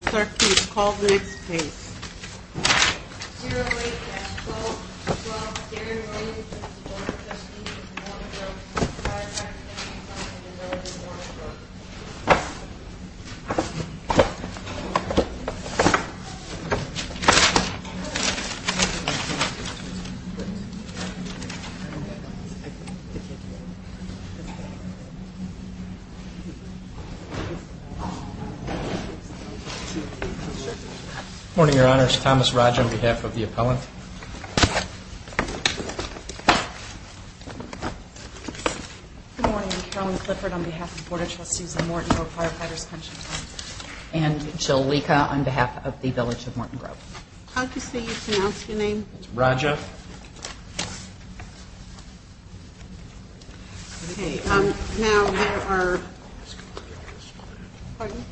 Caldwell St Good morning, your honors. Thomas Roger on behalf of the appellant. Good morning, your honors. Ellen Sifford on behalf of the Board of Trustees of Morton Grove Firefighters Association. And Jolica on behalf of the Village of Morton Grove. I'll just need you to announce your names. Roger. Okay, now we are... Pardon?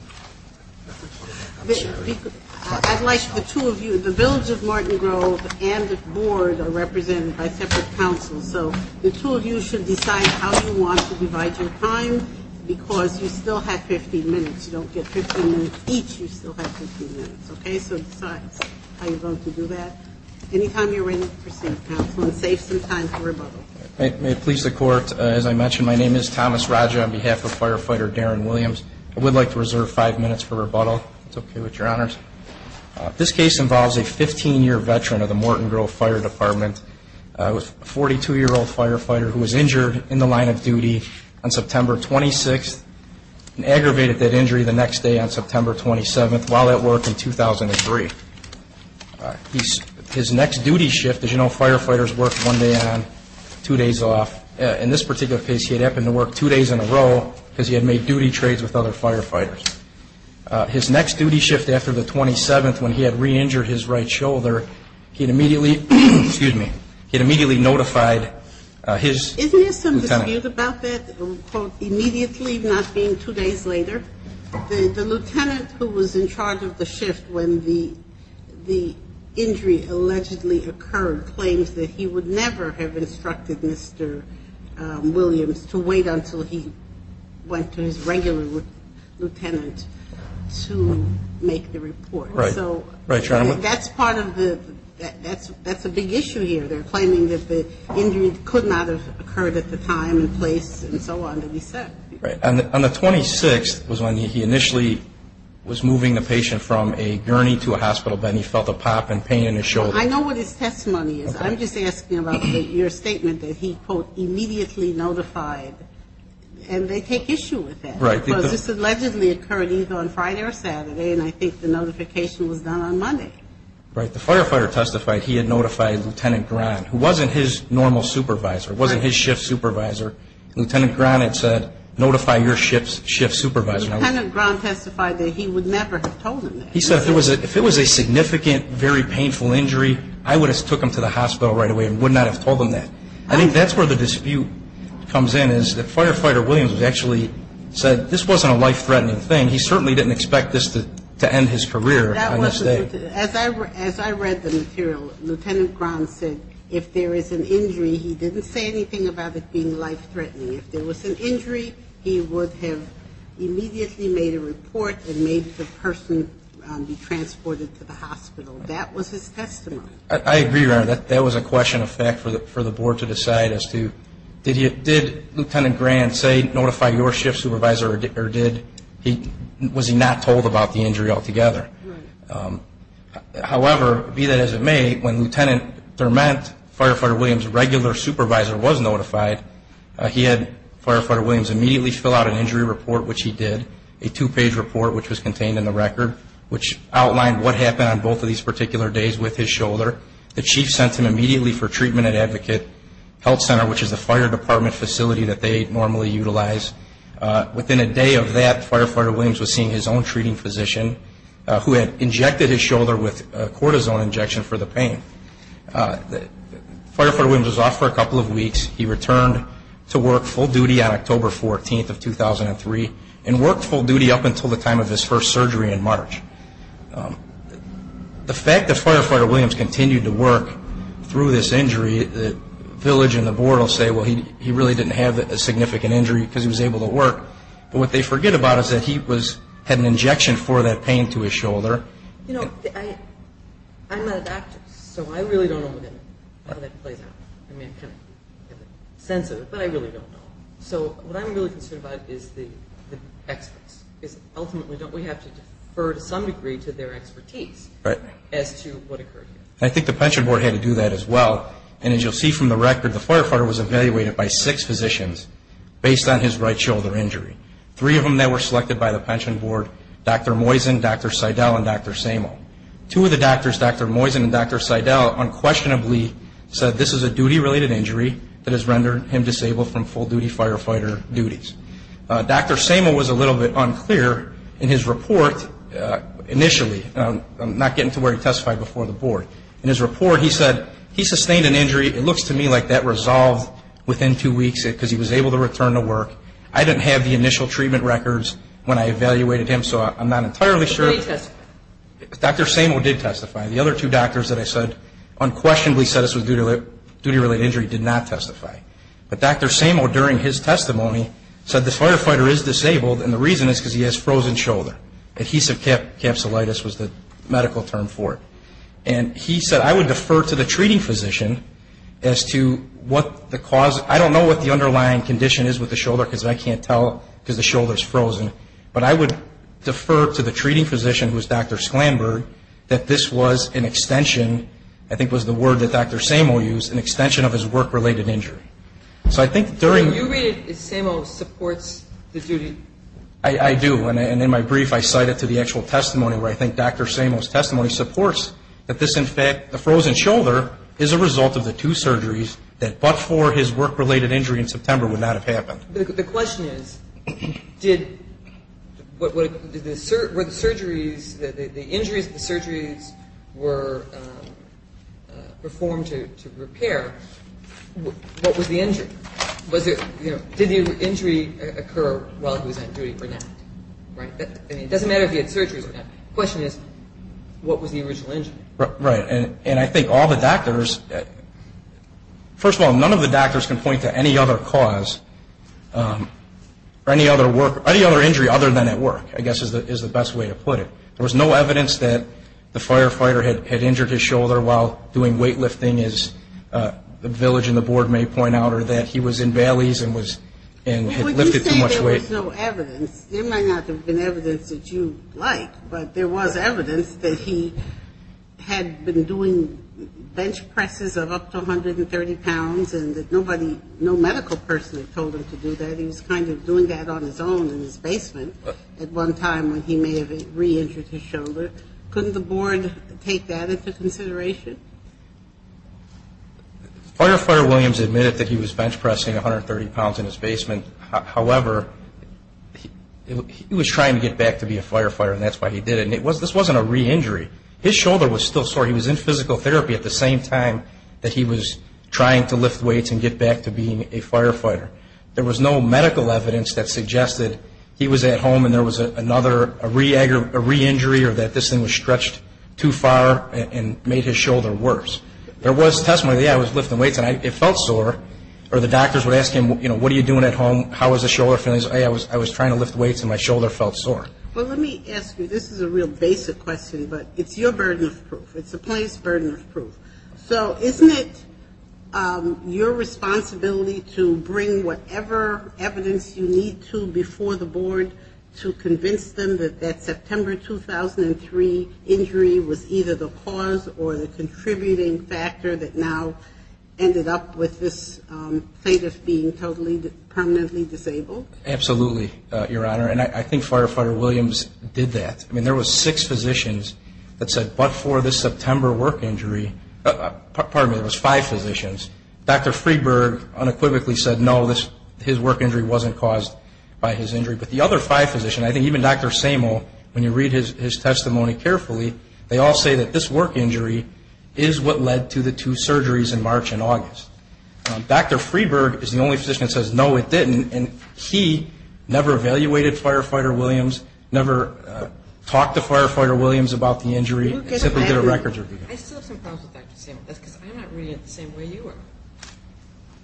I'd like the two of you... The Village of Morton Grove and the Board are represented by separate counsels. So, the two of you should decide how you want to divide your time, because you still have 15 minutes. You don't get 15 minutes each, you still have 15 minutes. Okay, so it's fine. How are you going to do that? Anytime you're ready. May it please the court, as I mentioned, my name is Thomas Roger on behalf of Firefighter Darren Williams. I would like to reserve five minutes for rebuttal. It's okay with your honors. This case involves a 15-year veteran of the Morton Grove Fire Department, a 42-year-old firefighter who was injured in the line of duty on September 26th and aggravated that injury the next day on September 27th while at work in 2003. His next duty shift, as you know, firefighters work one day on, two days off. In this particular case, he had happened to work two days in a row because he had made duty trades with other firefighters. His next duty shift after the 27th, when he had re-injured his right shoulder, he immediately notified his lieutenant. Isn't there some dispute about that? It was called immediately, not being two days later. The lieutenant who was in charge of the shift when the injury allegedly occurred claims that he would never have instructed Mr. Williams to wait until he went to his regular lieutenant to make the report. Right. Right, Your Honor. That's part of the, that's a big issue here. They're claiming that the injury could not have occurred at the time and place and so on. On the 26th was when he initially was moving the patient from a gurney to a hospital bed and he felt a pop and pain in his shoulder. I know what his testimony is. I'm just asking about your statement that he, quote, immediately notified. And they take issue with that. Right. Because this allegedly occurred either on Friday or Saturday and I think the notification was done on Monday. Right. The firefighter testified he had notified Lieutenant Brown, who wasn't his normal supervisor, wasn't his shift supervisor. Lieutenant Brown had said, notify your shift supervisor. Lieutenant Brown testified that he would never have told him that. He said if it was a significant, very painful injury, I would have took him to the hospital right away and would not have told him that. I think that's where the dispute comes in is that firefighter Williams actually said this wasn't a life-threatening thing. He certainly didn't expect this to end his career on this day. As I read the material, Lieutenant Brown said if there is an injury, he didn't say anything about it being life-threatening. If there was an injury, he would have immediately made a report and made the person be transported to the hospital. That was his testimony. I agree. That was a question of fact for the board to decide as to did Lieutenant Brown say notify your shift supervisor or was he not told about the injury altogether. However, be that as it may, when Lieutenant Thurmond, firefighter Williams' regular supervisor, was notified, he had firefighter Williams immediately fill out an injury report, which he did. A two-page report, which was contained in the record, which outlined what happened on both of these particular days with his shoulder. The chief sent him immediately for treatment at Advocate Health Center, which is the fire department facility that they normally utilize. Within a day of that, firefighter Williams was seeing his own treating physician, who had injected his shoulder with a cortisone injection for the pain. Firefighter Williams was off for a couple of weeks. He returned to work full duty on October 14th of 2003 and worked full duty up until the time of his first surgery in March. The fact that firefighter Williams continued to work through this injury, the village and the board will say, well, he really didn't have a significant injury because he was able to work. But what they forget about is that he had an injection for that pain to his shoulder. You know, I'm a doctor. So I really don't know what the next play is. I mean, it's sensitive, but I really don't know. So what I'm really concerned about is the experts. Ultimately, don't we have to defer to some degree to their expertise as to what occurred? I think the pension board had to do that as well. And as you'll see from the record, the firefighter was evaluated by six physicians based on his right shoulder injury. Three of them that were selected by the pension board, Dr. Moisen, Dr. Seidel, and Dr. Samel. Two of the doctors, Dr. Moisen and Dr. Seidel, unquestionably said this is a duty-related injury that has rendered him disabled from full-duty firefighter duties. Dr. Samel was a little bit unclear in his report initially. I'm not getting to where he testified before the board. In his report, he said he sustained an injury. It looks to me like that resolved within two weeks because he was able to return to work. I didn't have the initial treatment records when I evaluated him, so I'm not entirely sure. Dr. Samel did testify. The other two doctors that I said unquestionably said this was a duty-related injury did not testify. But Dr. Samel, during his testimony, said the firefighter is disabled, and the reason is because he has a frozen shoulder. Adhesive capsulitis was the medical term for it. And he said, I would defer to the treating physician as to what the cause is. I don't know what the underlying condition is with the shoulder because I can't tell if the shoulder is frozen. But I would defer to the treating physician, who is Dr. Sklamberg, that this was an extension, I think was the word that Dr. Samel used, an extension of his work-related injury. So I think during... Do you believe that Samel supports the duty? I do, and in my brief, I cite it to the actual testimony, where I think Dr. Samel's testimony supports that this, in fact, the frozen shoulder is a result of the two surgeries that, but for his work-related injury in September, would not have happened. The question is, did the surgeries, the injuries, the surgeries were performed to repair, what was the injury? Did the injury occur while he was on duty for that? It doesn't matter if he had surgery or not. The question is, what was the original injury? Right, and I think all the doctors... First of all, none of the doctors can point to any other cause, any other injury other than at work, I guess is the best way to put it. There was no evidence that the firefighter had injured his shoulder while doing weightlifting, as the village and the board may point out, or that he was in valleys and lifted too much weight. Well, you say there was no evidence. There might not have been evidence that you like, but there was evidence that he had been doing bench presses of up to 130 pounds and that nobody, no medical person had told him to do that. He was kind of doing that on his own in his basement at one time when he may have re-injured his shoulder. Couldn't the board take that into consideration? Firefighter Williams admitted that he was bench pressing 130 pounds in his basement. However, he was trying to get back to being a firefighter, and that's why he did it. And this wasn't a re-injury. His shoulder was still sore. He was in physical therapy at the same time that he was trying to lift weights and get back to being a firefighter. There was no medical evidence that suggested he was at home and there was another re-injury or that this thing was stretched too far and made his shoulder worse. There was testimony, yeah, I was lifting weights, and I felt sore. Or the doctors would ask him, you know, what are you doing at home? How was the shoulder feeling? He said, hey, I was trying to lift weights and my shoulder felt sore. Well, let me ask you, this is a real basic question, but it's your burden of proof. It's the plaintiff's burden of proof. So isn't it your responsibility to bring whatever evidence you need to before the board to convince them that that September 2003 injury was either the cause or the contributing factor that now ended up with this plaintiff being totally permanently disabled? Absolutely, Your Honor. And I think Firefighter Williams did that. I mean, there was six physicians that said, but for this September work injury, pardon me, there was five physicians. Dr. Freeburg unequivocally said, no, his work injury wasn't caused by his injury. But the other five physicians, I think even Dr. Samel, when you read his testimony carefully, they all say that this work injury is what led to the two surgeries in March and August. Dr. Freeburg is the only physician that says, no, it didn't, and he never evaluated Firefighter Williams, never talked to Firefighter Williams about the injury, except that there are records of it. I still have some problems with Dr. Samel. That's because I'm not really the same way you are.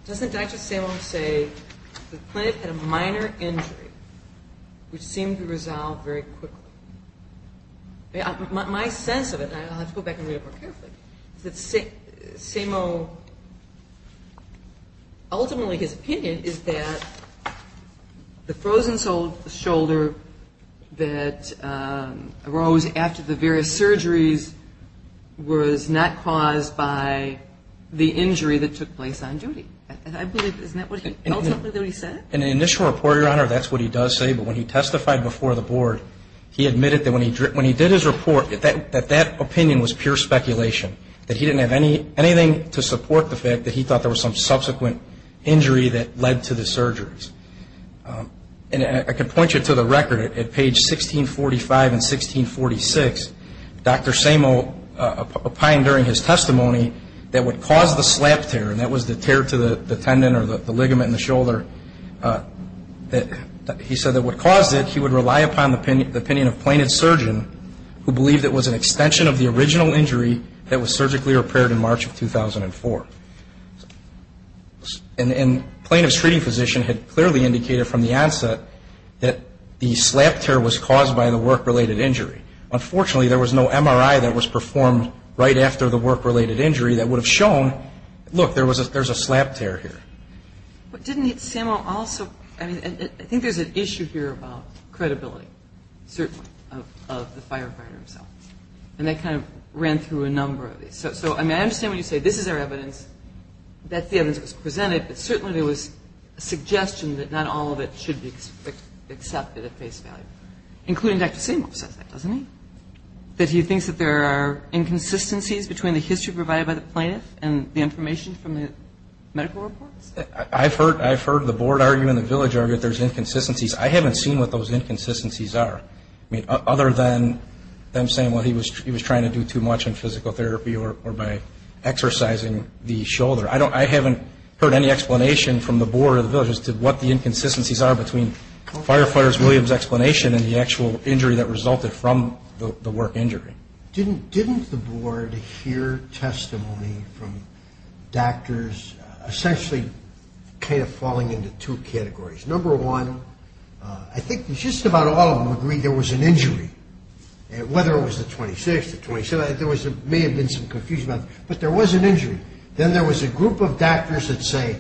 Doesn't Dr. Samel say the plaintiff had a minor injury which seemed to resolve very quickly? My sense of it, and let's go back and read it more carefully, that Dr. Samel, ultimately his opinion is that the frozen shoulder that arose after the various surgeries was not caused by the injury that took place on duty. And I believe, isn't that what he felt as he said? In the initial report, Your Honor, that's what he does say. But when he testified before the Board, he admitted that when he did his report, that that opinion was pure speculation, that he didn't have anything to support the fact that he thought there was some subsequent injury that led to the surgeries. And I can point you to the record at page 1645 and 1646. Dr. Samel opined during his testimony that what caused the slap tear, and that was the tear to the tendon or the ligament in the shoulder, that he said that what caused it, he would rely upon the opinion of plaintiff's surgeon who believed it was an extension of the original injury that was surgically repaired in March of 2004. And plaintiff's treating physician had clearly indicated from the onset that the slap tear was caused by the work-related injury. Unfortunately, there was no MRI that was performed right after the work-related injury that would have shown, look, there's a slap tear here. But didn't Samel also, I think there's an issue here about credibility of the firefighters. And I kind of ran through a number of these. So I understand when you say this is our evidence, that's the evidence that's presented, but certainly there was a suggestion that not all of it should be accepted at face value. Including Dr. Samel said that, doesn't he? That he thinks that there are inconsistencies between the history provided by the plaintiff and the information from the medical report? I've heard the board argue and the village argue that there's inconsistencies. I haven't seen what those inconsistencies are, other than them saying he was trying to do too much in physical therapy or by exercising the shoulder. I haven't heard any explanation from the board or the village as to what the inconsistencies are between Firefighter Williams' explanation and the actual injury that resulted from the work injury. Didn't the board hear testimony from doctors essentially kind of falling into two categories? Number one, I think just about all of them agreed there was an injury. Whether it was the 26th or 27th, there may have been some confusion, but there was an injury. Then there was a group of doctors that say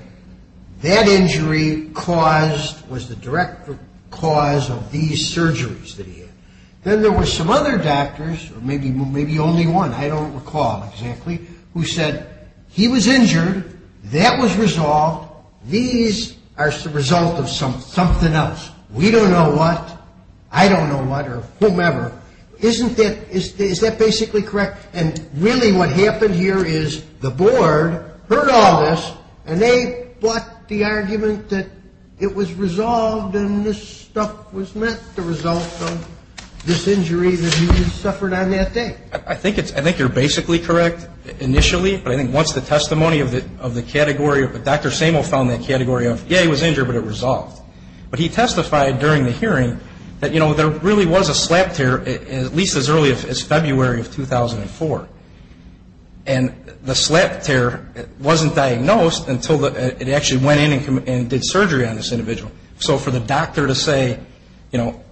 that injury caused, was the direct cause of these surgeries that he had. Then there were some other doctors, maybe only one, I don't recall exactly, who said he was injured, that was resolved, these are the result of something else. We don't know what, I don't know what or whomever. Isn't that, is that basically correct? And really what happened here is the board heard all this and they fought the argument that it was resolved and this stuff was not the result of this injury that he had suffered on that day. I think you're basically correct initially, but I think once the testimony of the category, Dr. Samuels found that category of, yeah, he was injured, but it resolved. But he testified during the hearing that there really was a slap tear at least as early as February of 2004. And the slap tear wasn't diagnosed until it actually went in and did surgery on this individual. So for the doctor to say, you know,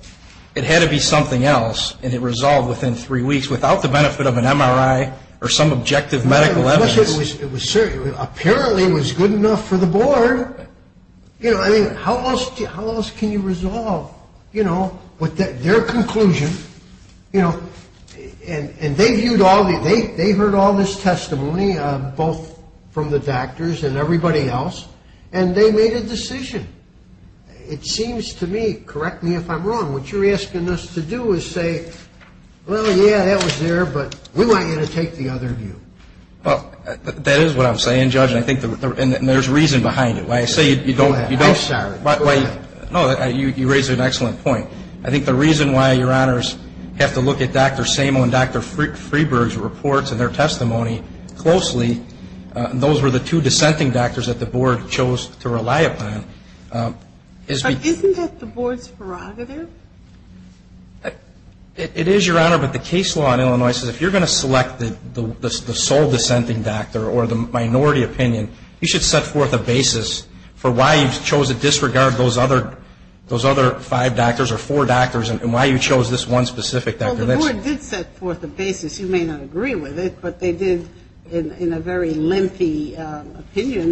it had to be something else and it resolved within three weeks without the benefit of an MRI or some objective medical evidence. Apparently it was good enough for the board. You know, I mean, how else can you resolve, you know, with their conclusion? You know, and they viewed all, they heard all this testimony both from the doctors and everybody else, and they made a decision. It seems to me, correct me if I'm wrong, what you're asking us to do is say, well, yeah, that was there, but we want you to take the other view. Well, that is what I'm saying, Judge, and I think there's reason behind it. When I say you don't, you raised an excellent point. I think the reason why, Your Honors, you have to look at Dr. Samo and Dr. Freeburg's reports and their testimony closely, those were the two dissenting doctors that the board chose to rely upon. Isn't that the board's prerogative? It is, Your Honor, but the case law in Illinois says if you're going to select the sole dissenting doctor or the minority opinion, you should set forth a basis for why you chose to disregard those other five doctors or four doctors and why you chose this one specific doctor. Well, the board did set forth a basis. You may not agree with it, but they did in a very limpy opinion.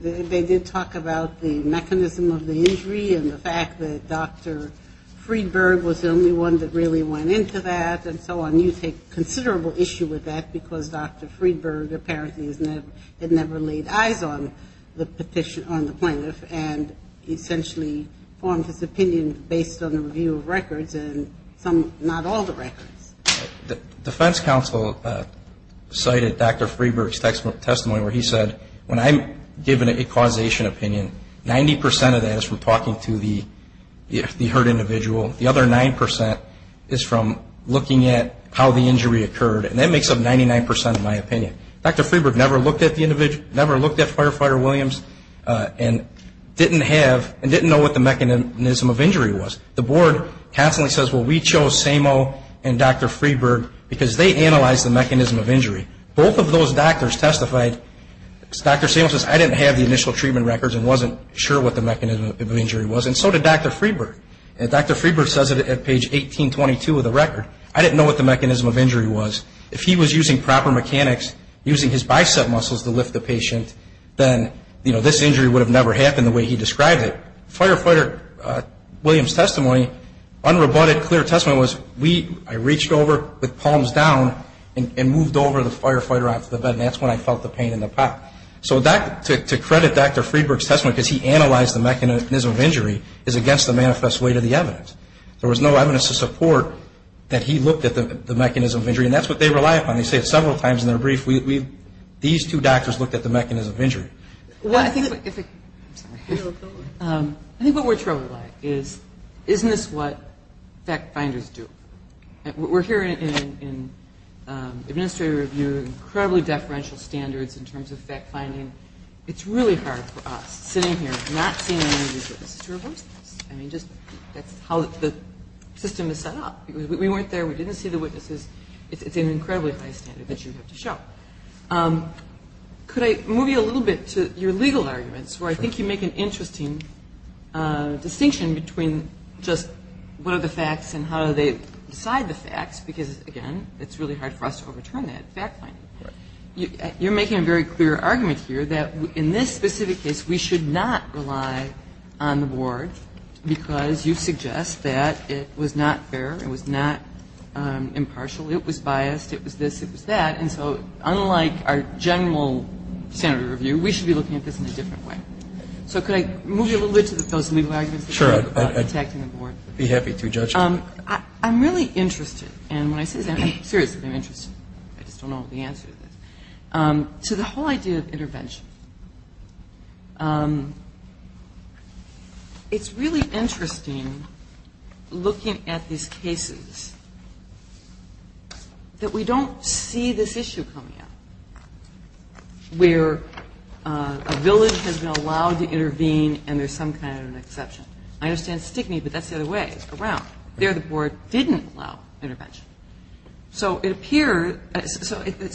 They did talk about the mechanism of the injury and the fact that Dr. Freeburg was the only one that really went into that and so on. You take considerable issue with that because Dr. Freeburg apparently had never laid eyes on the plaintiff and essentially formed his opinion based on the review of records and not all the records. The defense counsel cited Dr. Freeburg's testimony where he said, when I'm giving a causation opinion, 90% of that is from talking to the hurt individual. The other 9% is from looking at how the injury occurred, and that makes up 99% of my opinion. Dr. Freeburg never looked at Firefighter Williams and didn't know what the mechanism of injury was. The board happily says, well, we chose Samo and Dr. Freeburg because they analyzed the mechanism of injury. Both of those doctors testified. Dr. Samo says, I didn't have the initial treatment records and wasn't sure what the mechanism of injury was, and so did Dr. Freeburg. And Dr. Freeburg says it at page 1822 of the record. I didn't know what the mechanism of injury was. Then this injury would have never happened the way he described it. Firefighter Williams' testimony, unrebutted, clear testimony, was I reached over with palms down and moved over the firefighter onto the bed, and that's when I felt the pain in the back. So to credit Dr. Freeburg's testimony, because he analyzed the mechanism of injury, is against the manifest way to the evidence. There was no evidence to support that he looked at the mechanism of injury, and that's what they rely upon. When you say several times in their brief, these two doctors looked at the mechanism of injury. Well, I think what we're troubled by is, isn't this what fact finders do? We're here in administrative review, incredibly deferential standards in terms of fact finding. It's really hard for us, sitting here, not seeing the injury. I mean, just how the system is set up. We weren't there. We didn't see the witnesses. It's an incredibly high standard that you have to show. Could I move you a little bit to your legal arguments, where I think you make an interesting distinction between just what are the facts and how do they decide the facts, because, again, it's really hard for us to overturn that fact finding. You're making a very clear argument here that in this specific case, we should not rely on the board because you suggest that it was not fair and it was not impartial. It was biased. It was this. It was that. And so, unlike our general standard review, we should be looking at this in a different way. So, could I move you a little bit to those legal arguments? Sure. I'd be happy to judge you. I'm really interested, and when I say that, I'm seriously interested. I just don't know the answer to this, to the whole idea of intervention. It's really interesting, looking at these cases, that we don't see this issue coming up, where a village has been allowed to intervene and there's some kind of exception. I understand stigma, but that's the other way around. There, the board didn't allow intervention. So, it appears, it's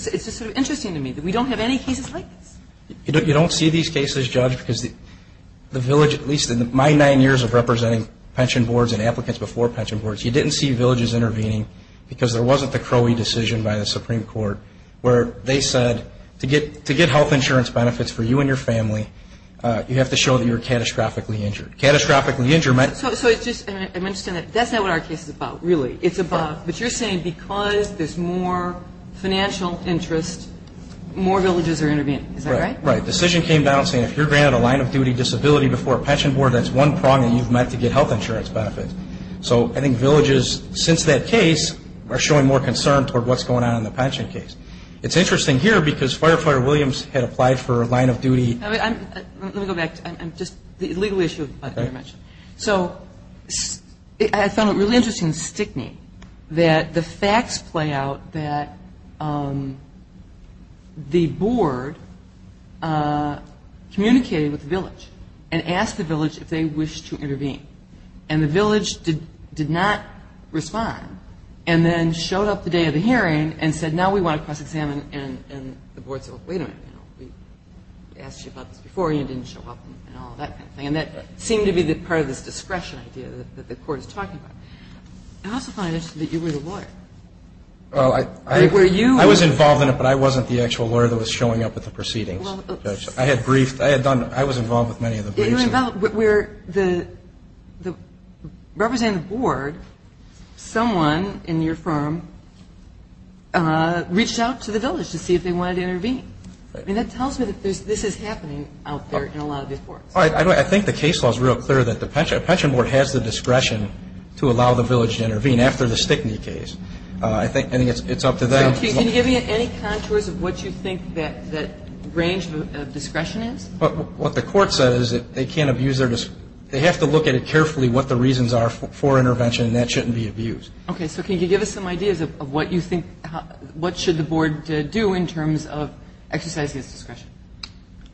just sort of interesting to me that we don't have any cases like this. You don't see these cases, Judge, because the village, at least in my nine years of representing pension boards and applicants before pension boards, you didn't see villages intervene because there wasn't the Crowley decision by the Supreme Court where they said to get health insurance benefits for you and your family, you have to show that you're catastrophically injured. So, that's not what our case is about, really. It's about, but you're saying because there's more financial interest, more villages are intervening. Is that right? Right. The decision came down saying if you're granted a line-of-duty disability before a pension board, that's one problem, and you have to get health insurance benefits. So, I think villages, since that case, are showing more concern toward what's going on in the pension case. It's interesting here because Firefighter Williams had applied for a line-of-duty. Let me go back. Just the legal issue. So, I found it really interesting that the facts play out that the board communicated with the village and asked the village if they wished to intervene. And the village did not respond and then showed up the day of the hearing and said, and now we want a pension plan and the board said, wait a minute. We asked you about this before and you didn't show up and all that kind of thing. And that seemed to be part of this discretion idea that the court is talking about. I also find it interesting that you were the lawyer. I was involved in it, but I wasn't the actual lawyer that was showing up at the proceedings. I was involved with many of the briefs. You were involved where the representative board, someone in your firm, reached out to the village to see if they wanted to intervene. I mean, that tells you that this is happening out there in a lot of these courts. I think the case was real clear that the pension board has the discretion to allow the village to intervene after the Stickney case. I think it's up to them. Can you give me any contours of what you think that range of discretion is? What the court said is that they can't abuse their discretion. They have to look at it carefully what the reasons are for intervention. That shouldn't be abused. Okay, so can you give us some ideas of what you think, what should the board do in terms of exercising its discretion?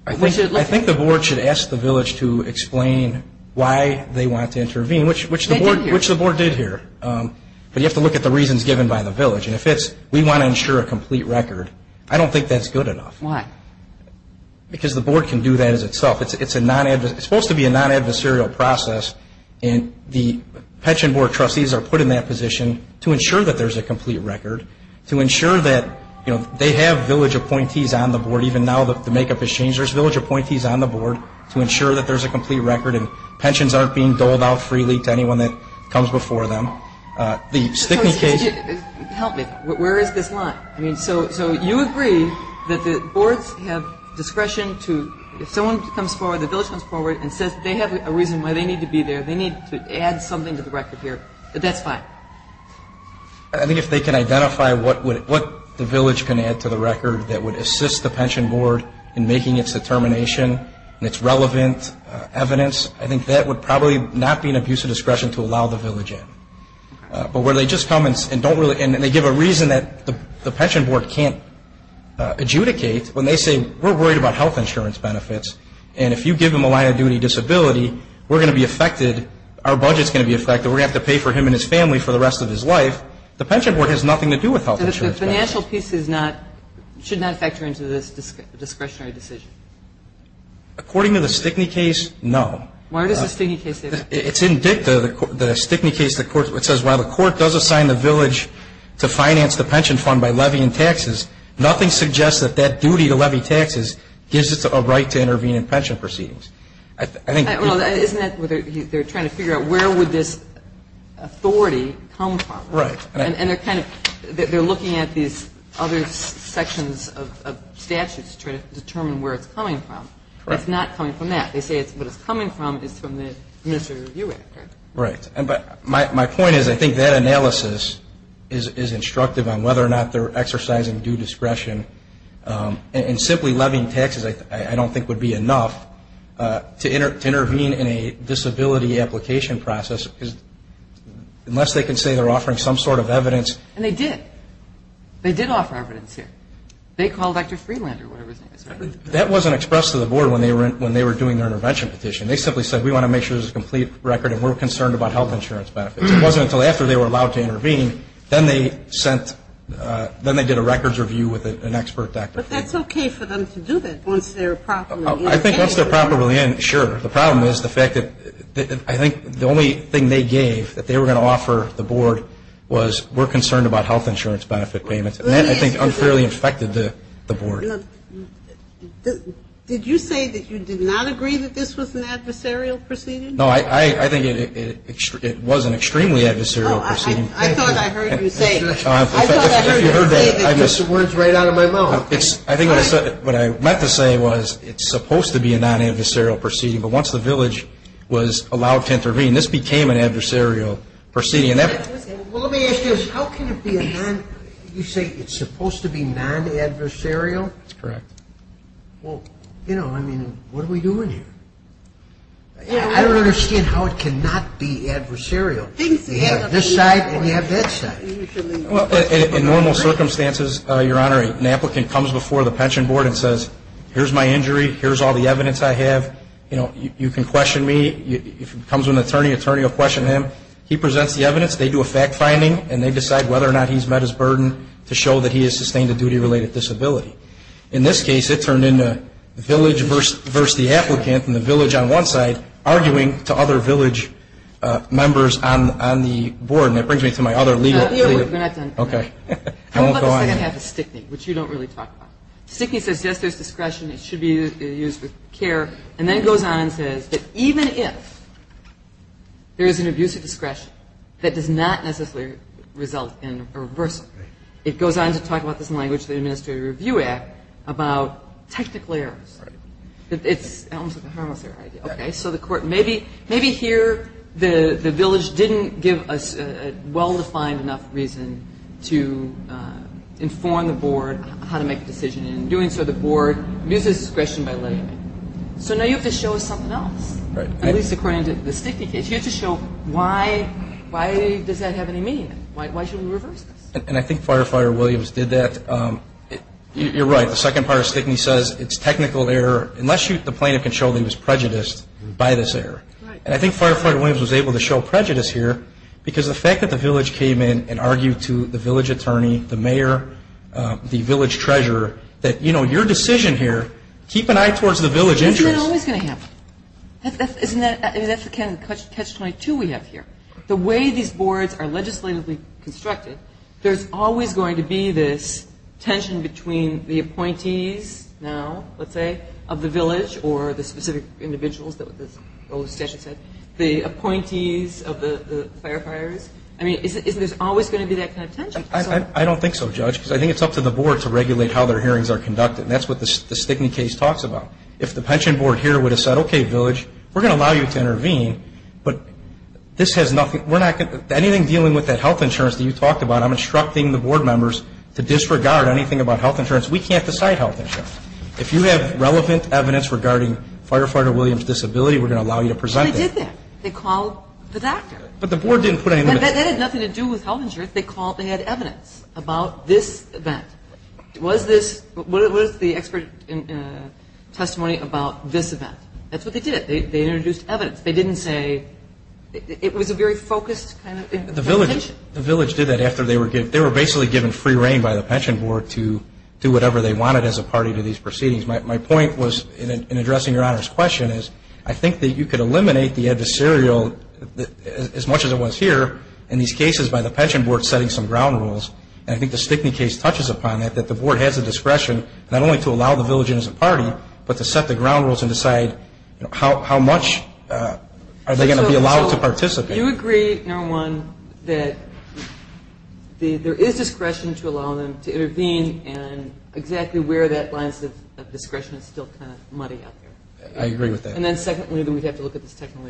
I think the board should ask the village to explain why they want to intervene, which the board did here. But you have to look at the reasons given by the village. And if it's, we want to ensure a complete record, I don't think that's good enough. Why? Because the board can do that itself. It's supposed to be a non-adversarial process, and the pension board trustees are put in that position to ensure that there's a complete record, to ensure that they have village appointees on the board. Even now the makeup has changed. There's village appointees on the board to ensure that there's a complete record and pensions aren't being doled out freely to anyone that comes before them. The Stickney case... Help me. Where is this line? So you agree that the boards have discretion to, if someone comes forward, the village comes forward and says they have a reason why they need to be there, they need to add something to the record here. That's fine. I think if they can identify what the village can add to the record that would assist the pension board in making its determination and its relevant evidence, I think that would probably not be an abuse of discretion to allow the village in. But where they just come and they give a reason that the pension board can't adjudicate when they say we're worried about health insurance benefits, and if you give them a line of duty disability, we're going to be affected, our budget's going to be affected, we're going to have to pay for him and his family for the rest of his life, the pension board has nothing to do with health insurance benefits. So the financial piece should not factor into this discretionary decision? According to the Stickney case, no. Why does the Stickney case say that? It's in DICTA, the Stickney case, where it says while the court does assign the village to finance the pension fund by levy and taxes, nothing suggests that that duty to levy taxes gives it a right to intervene in pension proceedings. Isn't that where they're trying to figure out where would this authority come from? Right. And they're looking at these other sections of statutes to determine where it's coming from. It's not coming from that. They say it's where it's coming from, it's from the initial review effort. Right. But my point is I think that analysis is instructive on whether or not they're exercising due discretion, and simply levying taxes I don't think would be enough to intervene in a disability application process, unless they can say they're offering some sort of evidence. And they did. They did offer evidence here. They called Dr. Freelander or whatever his name is. That wasn't expressed to the board when they were doing their intervention petition. They simply said we want to make sure this is a complete record and we're concerned about health insurance benefits. It wasn't until after they were allowed to intervene, then they sent, then they did a records review with an expert doctor. But that's okay for them to do that once they're properly in. I think once they're properly in, sure. The problem is the fact that I think the only thing they gave that they were going to offer the board was we're concerned about health insurance benefit payments. And that, I think, unfairly infected the board. Did you say that you did not agree that this was an adversarial proceeding? No, I think it was an extremely adversarial proceeding. I thought I heard you say that. I thought I heard you say that. You heard that, I guess. That's the words right out of my mouth. I think what I meant to say was it's supposed to be a non-adversarial proceeding, but once the village was allowed to intervene, this became an adversarial proceeding. Well, let me ask you this. How can it be a non-adversarial? You say it's supposed to be non-adversarial? That's correct. Well, you know, I mean, what are we doing here? I don't understand how it cannot be adversarial. They have this side and they have that side. In normal circumstances, Your Honor, an applicant comes before the pension board and says, here's my injury, here's all the evidence I have, you know, you can question me. If it comes to an attorney, the attorney will question him. He presents the evidence, they do a fact-finding, and they decide whether or not he's met his burden to show that he has sustained a duty-related disability. In this case, it turned into the village versus the applicant, and the village on one side arguing to other village members on the board, and that brings me to my other legal issue. Okay. Don't go on again. I have a stickney, which you don't really talk about. Stickney says yes, there's discretion, it should be used for care, and then goes on to say that even if there is an abuse of discretion that does not necessarily result in a reversal, it goes on to talk about this in the language of the Administrative Review Act about technical errors. Okay. So maybe here the village didn't give a well-defined enough reason to inform the board how to make a decision, and in doing so, the board loses discretion. So now you have to show us something else. Right. At least according to the stickney case, you have to show why does that have any meaning? Why should we reverse it? And I think Firefighter Williams did that. You're right. The second part of stickney says it's technical error. Unless the plaintiff can show that there's prejudice, it's by this error. And I think Firefighter Williams was able to show prejudice here because the fact that the village came in and argued to the village attorney, the mayor, the village treasurer that, you know, your decision here, keep an eye towards the village agency. That's not always going to happen. And that's the catch 22 we have here. The way these boards are legislatively constructed, there's always going to be this tension between the appointees now, let's say, of the village or the specific individuals, the appointees of the firefighters. I mean, isn't there always going to be that kind of tension? I don't think so, Judge, because I think it's up to the board to regulate how their hearings are conducted. And that's what the stickney case talks about. If the pension board here would have said, okay, village, we're going to allow you to intervene, but anything dealing with that health insurance that you talked about, I'm instructing the board members to disregard anything about health insurance. We can't decide health insurance. If you have relevant evidence regarding Firefighter Williams' disability, we're going to allow you to present that. They called the doctor. But the board didn't put anything up. That had nothing to do with health insurance. They had evidence about this event. What is the expert testimony about this event? That's what they did. They introduced evidence. They didn't say it was a very focused kind of thing. The village did that after they were basically given free reign by the pension board to do whatever they wanted as a party to these proceedings. My point was, in addressing Your Honor's question, is I think that you could eliminate the adversarial as much as it was here in these cases by the pension board setting some ground rules. I think the stickney case touches upon that, that the board has the discretion not only to allow the village in as a party, but to set the ground rules and decide how much are they going to be allowed to participate. Do you agree, Your Honor, that there is discretion to allow them to intervene and exactly where that line of discretion is still kind of muddy out there? I agree with that. And then secondly, we have to look at this technical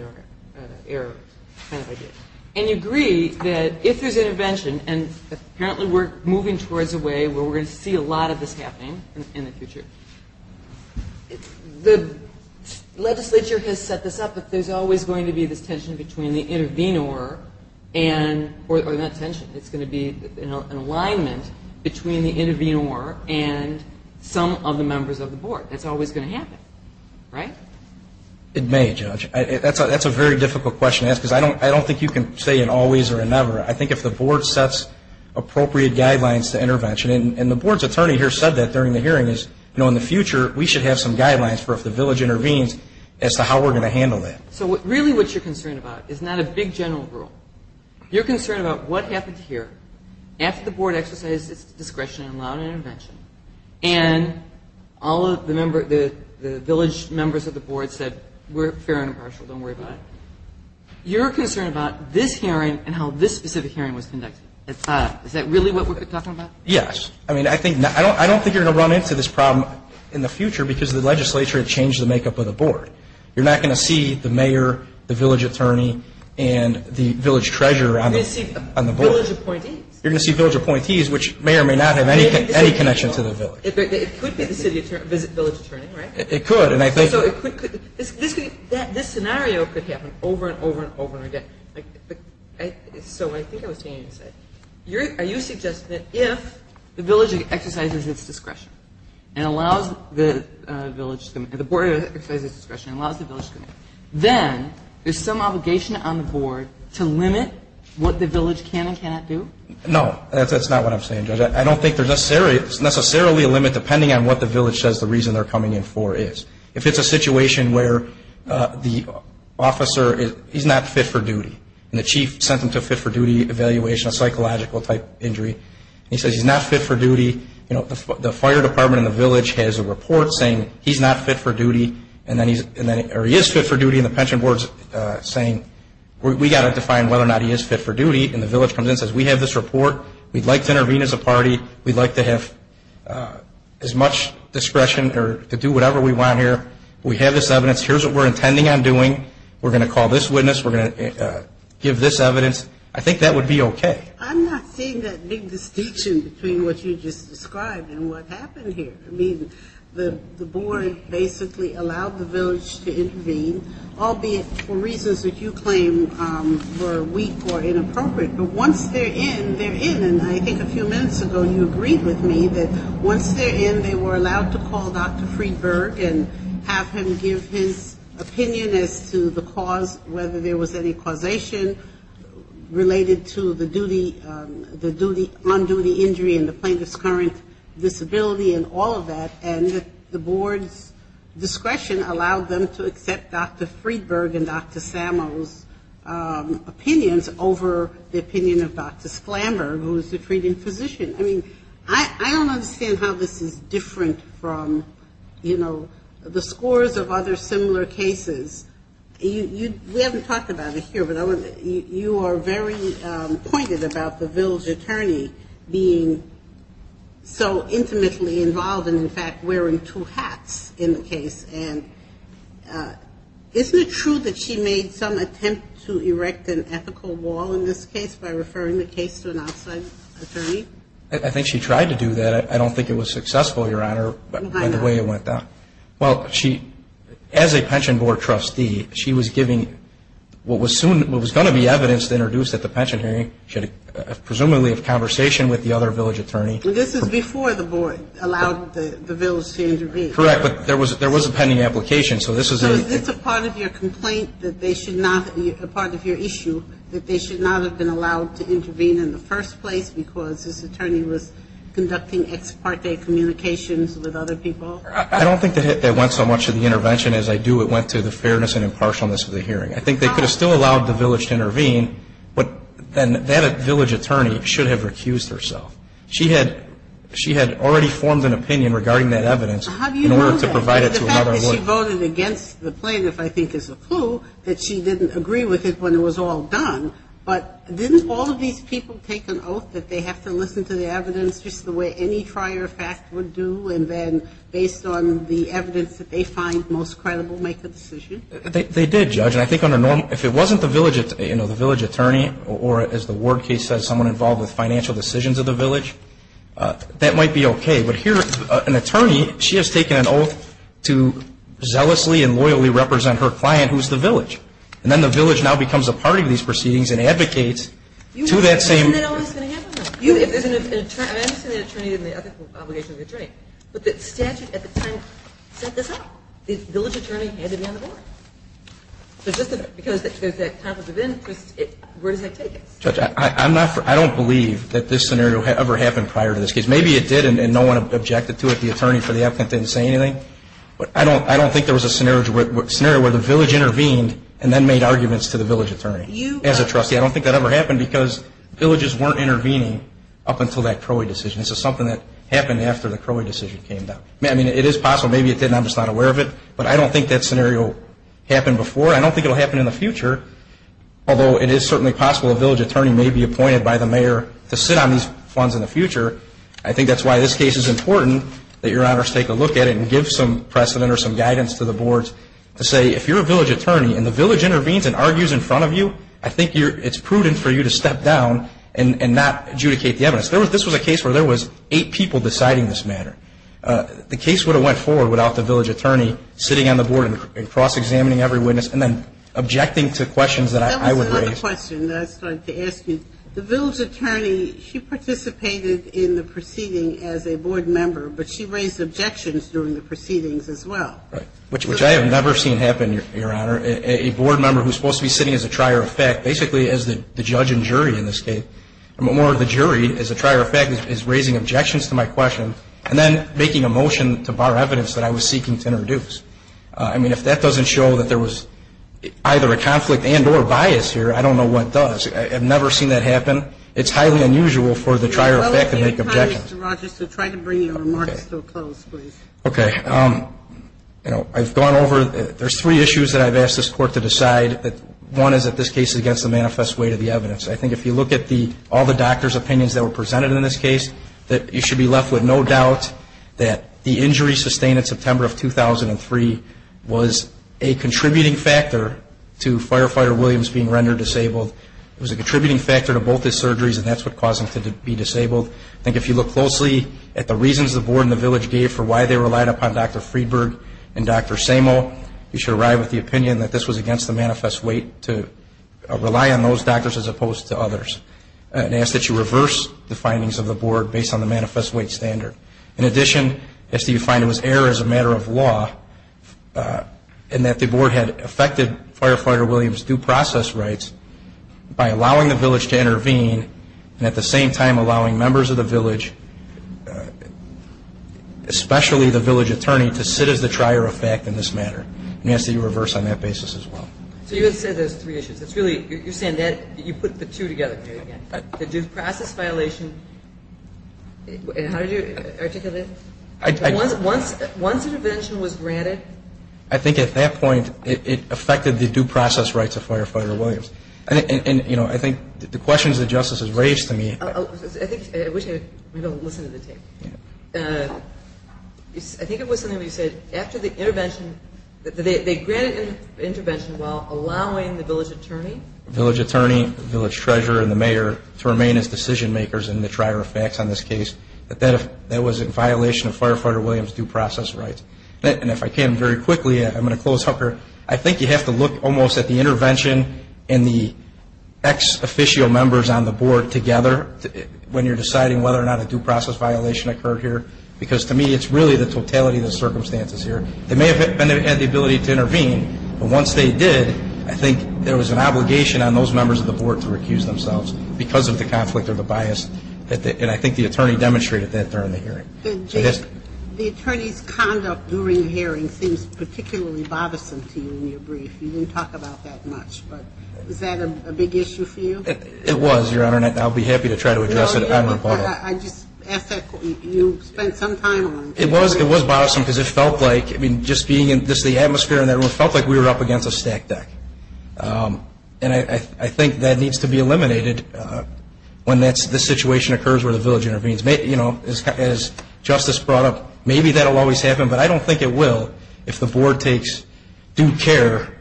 error kind of idea. And you agree that if there's intervention, and apparently we're moving towards a way where we're going to see a lot of this happening in the future. The legislature can set this up, but there's always going to be this tension between the intervenor and, or not tension, it's going to be an alignment between the intervenor and some of the members of the board. That's always going to happen, right? It may, Judge. That's a very difficult question to ask because I don't think you can say an always or a never. I think if the board sets appropriate guidelines to intervention, and the board's attorney here said that during the hearing is, you know, in the future, we should have some guidelines for if the village intervenes as to how we're going to handle that. So really what you're concerned about is not a big general rule. You're concerned about what happens here after the board exercises discretion in allowing intervention and all of the village members of the board said we're fair and impartial, don't worry about it. You're concerned about this hearing and how this specific hearing was conducted. Is that really what we're talking about? Yes. I mean, I don't think you're going to run into this problem in the future because the legislature changed the makeup of the board. You're not going to see the mayor, the village attorney, and the village treasurer on the board. You're going to see village appointees which may or may not have any connection to the village. It could be the village attorney, right? It could. This scenario could happen over and over and over again. So I think it will change. Are you suggesting that if the village exercises its discretion and allows the village, the board exercises its discretion and allows the village to move, then there's some obligation on the board to limit what the village can and cannot do? No. That's not what I'm saying. I don't think there's necessarily a limit depending on what the village says the reason they're coming in for is. If it's a situation where the officer is not fit for duty and the chief sent them to a fit for duty evaluation, a psychological type injury, and he says he's not fit for duty, the fire department in the village has a report saying he's not fit for duty or he is fit for duty and the pension board is saying we've got to define whether or not he is fit for duty and the village comes in and says we have this report. We'd like to intervene as a party. We'd like to have as much discretion to do whatever we want here. We have this evidence. Here's what we're intending on doing. We're going to call this witness. We're going to give this evidence. I think that would be okay. I'm not seeing that big distinction between what you just described and what happened here. The board basically allowed the village to intervene, albeit for reasons that you claim were weak or inappropriate. But once they're in, they're in. And I think a few minutes ago you agreed with me that once they're in, they were allowed to call Dr. Friedberg and have him give his opinion as to the cause, whether there was any causation related to the on-duty injury and the plaintiff's current disability and all of that. And the board's discretion allowed them to accept Dr. Friedberg and Dr. Samo's opinions over the opinion of Dr. Flamberg, who is the treating physician. I don't understand how this is different from the scores of other similar cases. We haven't talked about it here, but you are very pointed about the village attorney being so intimately involved and, in fact, wearing two hats in the case. And isn't it true that she made some attempts to erect an ethical wall in this case by referring the case to an outside attorney? I think she tried to do that. I don't think it was successful, Your Honor, in the way it went down. Well, as a pension board trustee, she was giving what was going to be evidence to introduce at the pension hearing, presumably a conversation with the other village attorney. This is before the board allowed the village to intervene. Correct, but there was a pending application. Is this a part of your complaint, a part of your issue, that they should not have been allowed to intervene in the first place because this attorney was conducting ex parte communications with other people? I don't think that went so much to the intervention as I do what went to the fairness and impartialness of the hearing. I think they could have still allowed the village to intervene, but then that village attorney should have refused herself. She had already formed an opinion regarding that evidence in order to provide it to another lawyer. How do you know that? In fact, she voted against the plaintiff, I think, as a clue, that she didn't agree with it when it was all done. But didn't all of these people take an oath that they have to listen to the evidence just the way any prior fact would do and then based on the evidence that they find most credible make the decision? They did, Judge. I think if it wasn't the village attorney or, as the Ward case says, someone involved with financial decisions of the village, that might be okay. But here, an attorney, she has taken an oath to zealously and loyally represent her client, who is the village. And then the village now becomes a part of these proceedings and advocates to that same... Isn't that all that's going to happen now? I understand the attorney and the advocate's obligation to the attorney, but the statute at the time set this up. The village attorney handed down the vote. So just because it's at the top of the bin, we're going to take it. Judge, I don't believe that this scenario ever happened prior to this case. Maybe it did and no one objected to it, the attorney for the advocate didn't say anything, but I don't think there was a scenario where the village intervened and then made arguments to the village attorney. As a trustee, I don't think that ever happened because villages weren't intervening up until that Crowley decision. This is something that happened after the Crowley decision came down. I mean, it is possible. Maybe it didn't and I'm just not aware of it, but I don't think that scenario happened before. I don't think it will happen in the future, although it is certainly possible a village attorney may be appointed by the mayor to sit on these funds in the future. I think that's why this case is important that Your Honor take a look at it and give some precedent or some guidance to the boards to say, if you're a village attorney and the village intervenes and argues in front of you, I think it's prudent for you to step down and not adjudicate the evidence. This was a case where there was eight people deciding this matter. The case would have went forward without the village attorney sitting on the board and cross-examining every witness and then objecting to questions that I would raise. I have a question that I would like to ask you. The village attorney, she participated in the proceeding as a board member, but she raised objections during the proceedings as well. Which I have never seen happen, Your Honor. A board member who's supposed to be sitting as a trier of fact, basically as the judge and jury in this case, more of the jury as a trier of fact is raising objections to my question and then making a motion to bar evidence that I was seeking to introduce. I mean, if that doesn't show that there was either a conflict and or bias here, I don't know what does. I've never seen that happen. It's highly unusual for the trier of fact to make objections. Mr. Rochester, try to bring your remarks to a close, please. Okay. I've gone over, there's three issues that I've asked this court to decide. One is that this case is against the manifest way to the evidence. I think if you look at all the doctor's opinions that were presented in this case, that you should be left with no doubt that the injury sustained in September of 2003 was a contributing factor to Firefighter Williams being rendered disabled. It was a contributing factor to both his surgeries, and that's what caused him to be disabled. I think if you look closely at the reasons the board and the village gave for why they relied upon Dr. Friedberg and Dr. Samo, you should arrive at the opinion that this was against the manifest way to rely on those doctors as opposed to others. And I ask that you reverse the findings of the board based on the manifest way standard. In addition, I ask that you find it was error as a matter of law, and that the board had affected Firefighter Williams' due process rights by allowing the village to intervene and at the same time allowing members of the village, especially the village attorney, to sit as the trier of fact in this matter. And I ask that you reverse on that basis as well. You just said there's three issues. You're saying that you put the two together. The due process violations, and how did you articulate that? Once the intervention was granted? I think at that point it affected the due process rights of Firefighter Williams. And, you know, I think the questions that Justice has raised to me. I think we can listen to the tape. I think it was something that you said after the intervention, that they granted an intervention while allowing the village attorney. The village attorney, the village treasurer, and the mayor to remain as decision makers in the trier of facts on this case, that that was in violation of Firefighter Williams' due process rights. And if I can very quickly, I'm going to close, Hunker. I think you have to look almost at the intervention and the ex-official members on the board together when you're deciding whether or not a due process violation occurred here. Because to me it's really the totality of the circumstances here. They may have had the ability to intervene, but once they did, I think there was an obligation on those members of the board to recuse themselves because of the conflict or the bias. And I think the attorney demonstrated that during the hearing. The attorney's conduct during the hearing seems particularly bothersome to you in your brief. You didn't talk about that much, but is that a big issue for you? It was, Your Honor, and I'll be happy to try to address it on the court. I just ask that you spend some time on it. It was bothersome because it felt like, just being in the atmosphere, it felt like we were up against a stack deck. And I think that needs to be eliminated when this situation occurs where the village intervenes. As Justice brought up, maybe that will always happen, but I don't think it will if the board takes due care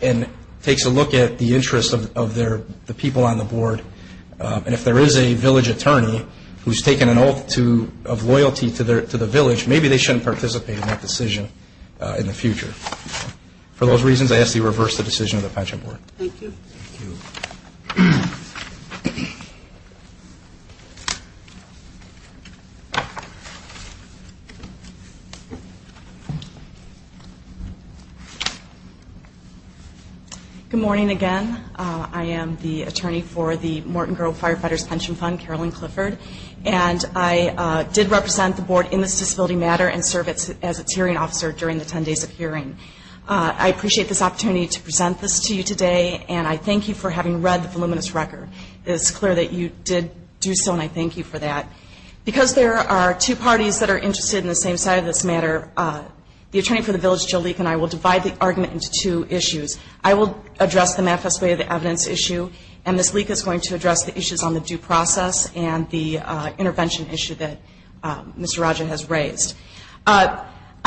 and takes a look at the interests of the people on the board. And if there is a village attorney who's taken an oath of loyalty to the village, maybe they shouldn't participate in that decision in the future. For those reasons, I ask that you reverse the decision of the Pledge of Allegiance. Thank you. Thank you. Good morning again. I am the attorney for the Morton Grove Firefighters Pension Fund, Carolyn Clifford, and I did represent the board in this disability matter and serve as a hearing officer during the 10 days of hearing. I appreciate this opportunity to present this to you today, and I thank you for having read the luminous record. It is clear that you did do so, and I thank you for that. Because there are two parties that are interested in the same side of this matter, the attorney for the village, Jalika, and I will divide the argument into two issues. I will address the manifest way of the evidence issue, and Ms. Leek is going to address the issues on the due process and the intervention issue that Mr. Rogers has raised. I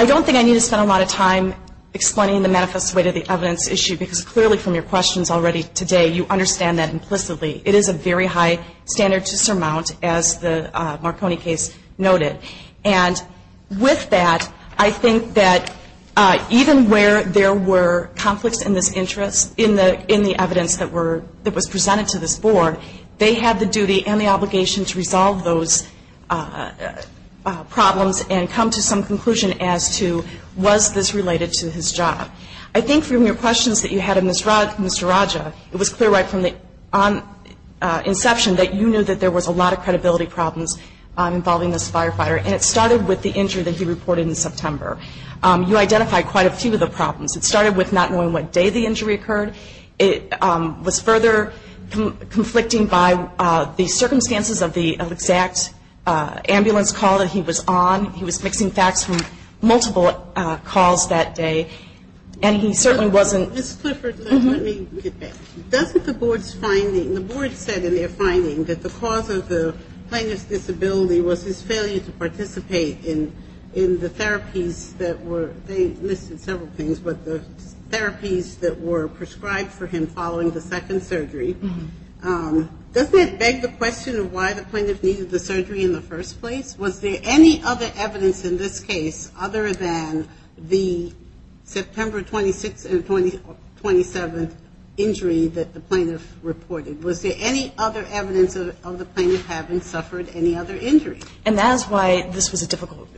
don't think I need to spend a lot of time explaining the manifest way of the evidence issue because clearly from your questions already today, you understand that implicitly. It is a very high standard to surmount, as the Marconi case noted. And with that, I think that even where there were conflicts in this interest in the evidence that was presented to this board, they had the duty and the obligation to resolve those problems and come to some conclusion as to was this related to his job. I think from your questions that you had of Mr. Rogers, it was clear right from the inception that you knew that there was a lot of credibility problems involving this firefighter, and it started with the injury that he reported in September. You identified quite a few of the problems. It started with not knowing what day the injury occurred. It was further conflicting by the circumstances of the exact ambulance call that he was on. He was fixing facts from multiple calls that day, and he certainly wasn't- Ms. Clifford, let me reiterate. That was the board's finding. The board said in their finding that the cause of the plaintiff's disability was his failure to participate in the therapies that were- they listed several things, but the therapies that were prescribed for him following the second surgery. Does that beg the question of why the plaintiff needed the surgery in the first place? Was there any other evidence in this case other than the September 26th and 27th injury that the plaintiff reported? Was there any other evidence of the plaintiff having suffered any other injuries? And that is why this was a difficult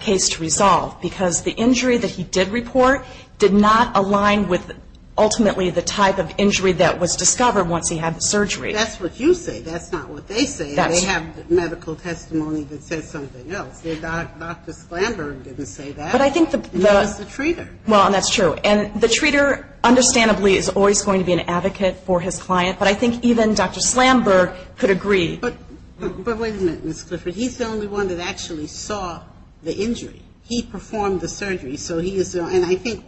case to resolve, because the injury that he did report did not align with ultimately the type of injury that was discovered once he had the surgery. That's what you say. That's not what they say. They have medical testimony that says something else. Dr. Slamberg didn't say that. But I think the- It was the treater. Well, and that's true. And the treater, understandably, is always going to be an advocate for his client, but I think even Dr. Slamberg could agree. But wait a minute, Ms. Clifford. He's the only one that actually saw the injury. He performed the surgery, so he is the- And it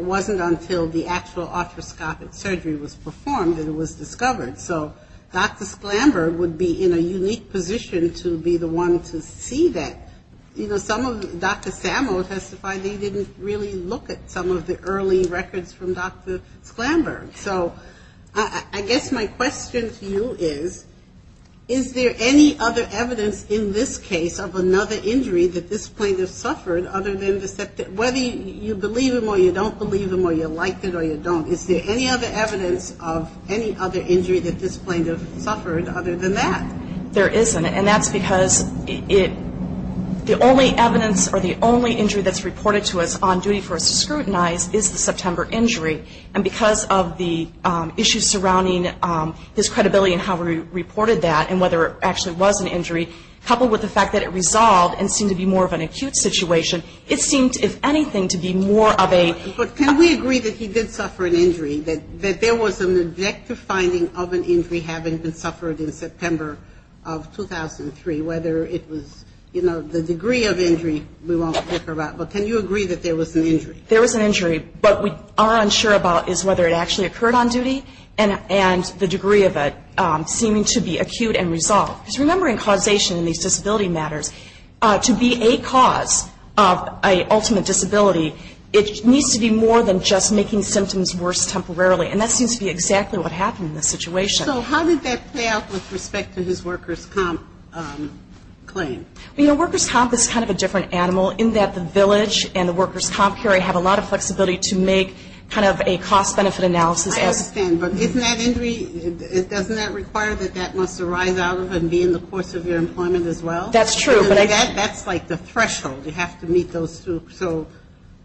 wasn't until the actual arthroscopic surgery was performed that it was discovered. So Dr. Slamberg would be in a unique position to be the one to see that. You know, some of Dr. Samo testified they didn't really look at some of the early records from Dr. Slamberg. So I guess my question to you is, is there any other evidence in this case of another injury that this plaintiff suffered other than the- Whether you believe him or you don't believe him or you like him or you don't, is there any other evidence of any other injury that this plaintiff suffered other than that? There isn't. And that's because the only evidence or the only injury that's reported to us on duty for us to scrutinize is the September injury. And because of the issues surrounding his credibility and how we reported that and whether it actually was an injury, coupled with the fact that it resolved and seemed to be more of an acute situation, it seemed, if anything, to be more of a- But can we agree that he did suffer an injury, that there was an objective finding of an injury having been suffered in September of 2003, whether it was, you know, the degree of injury we want to talk about. But can you agree that there was an injury? There was an injury. What we are unsure about is whether it actually occurred on duty and the degree of it seemed to be acute and resolved. Just remembering causation in these disability matters, to be a cause of an ultimate disability, it needs to be more than just making symptoms worse temporarily. And that seems to be exactly what happened in this situation. So how does that play out with respect to his workers' comp claim? You know, workers' comp is kind of a different animal in that the village and the workers' comp area have a lot of flexibility to make kind of a cost-benefit analysis. I understand. But doesn't that require that that must arise out of and be in the course of your employment as well? That's true. That's like the threshold. You have to meet those two.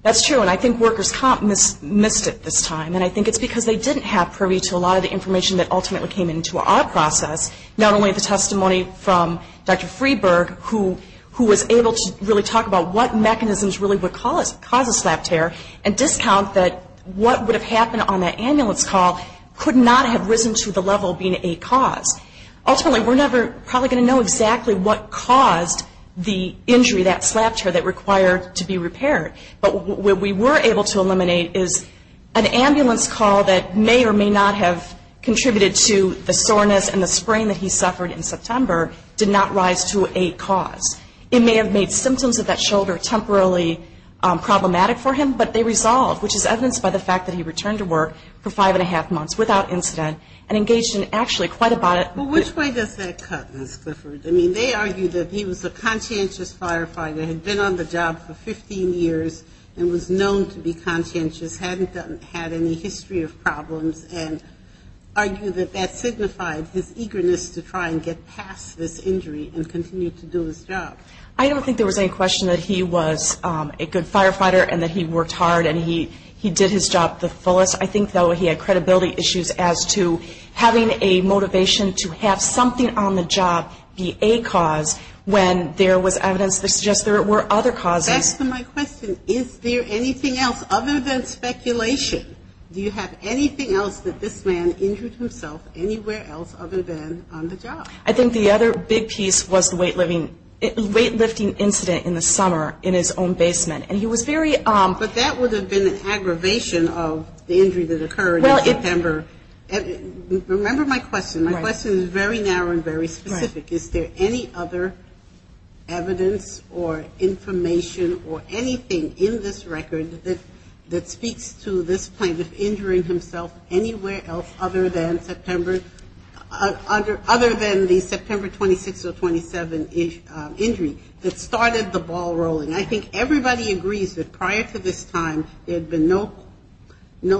That's true. And I think workers' comp missed it this time. And I think it's because they didn't have purview to a lot of the information that ultimately came into our process, not only the testimony from Dr. Freeburg, who was able to really talk about what mechanisms really would cause a slap tear, and discount that what would have happened on that ambulance call could not have risen to the level of being a cause. Ultimately, we're never probably going to know exactly what caused the injury, that slap tear, that required to be repaired. But what we were able to eliminate is an ambulance call that may or may not have contributed to the soreness and the sprain that he suffered in September did not rise to a cause. It may have made symptoms of that shoulder temporarily problematic for him, but they resolved, which is evidenced by the fact that he returned to work for five-and-a-half months without incident and engaged in actually quite a bite. Well, which way does that cut? I mean, they argue that he was a conscientious firefighter, had been on the job for 15 years, and was known to be conscientious, hadn't had any history of problems, and argue that that signifies his eagerness to try and get past this injury and continue to do his job. I don't think there was any question that he was a good firefighter and that he worked hard and he did his job to the fullest. I think, though, he had credibility issues as to having a motivation to have something on the job be a cause when there was evidence to suggest there were other causes. That's my question. Is there anything else other than speculation? Do you have anything else that this man injures himself anywhere else other than on the job? I think the other big piece was the weightlifting incident in the summer in his own basement. But that would have been an aggravation of the injury that occurred in December. Remember my question. My question is very narrow and very specific. Is there any other evidence or information or anything in this record that speaks to this plaintiff injuring himself anywhere else other than the September 26th or 27th injury that started the ball rolling? I think everybody agrees that prior to this time there had been no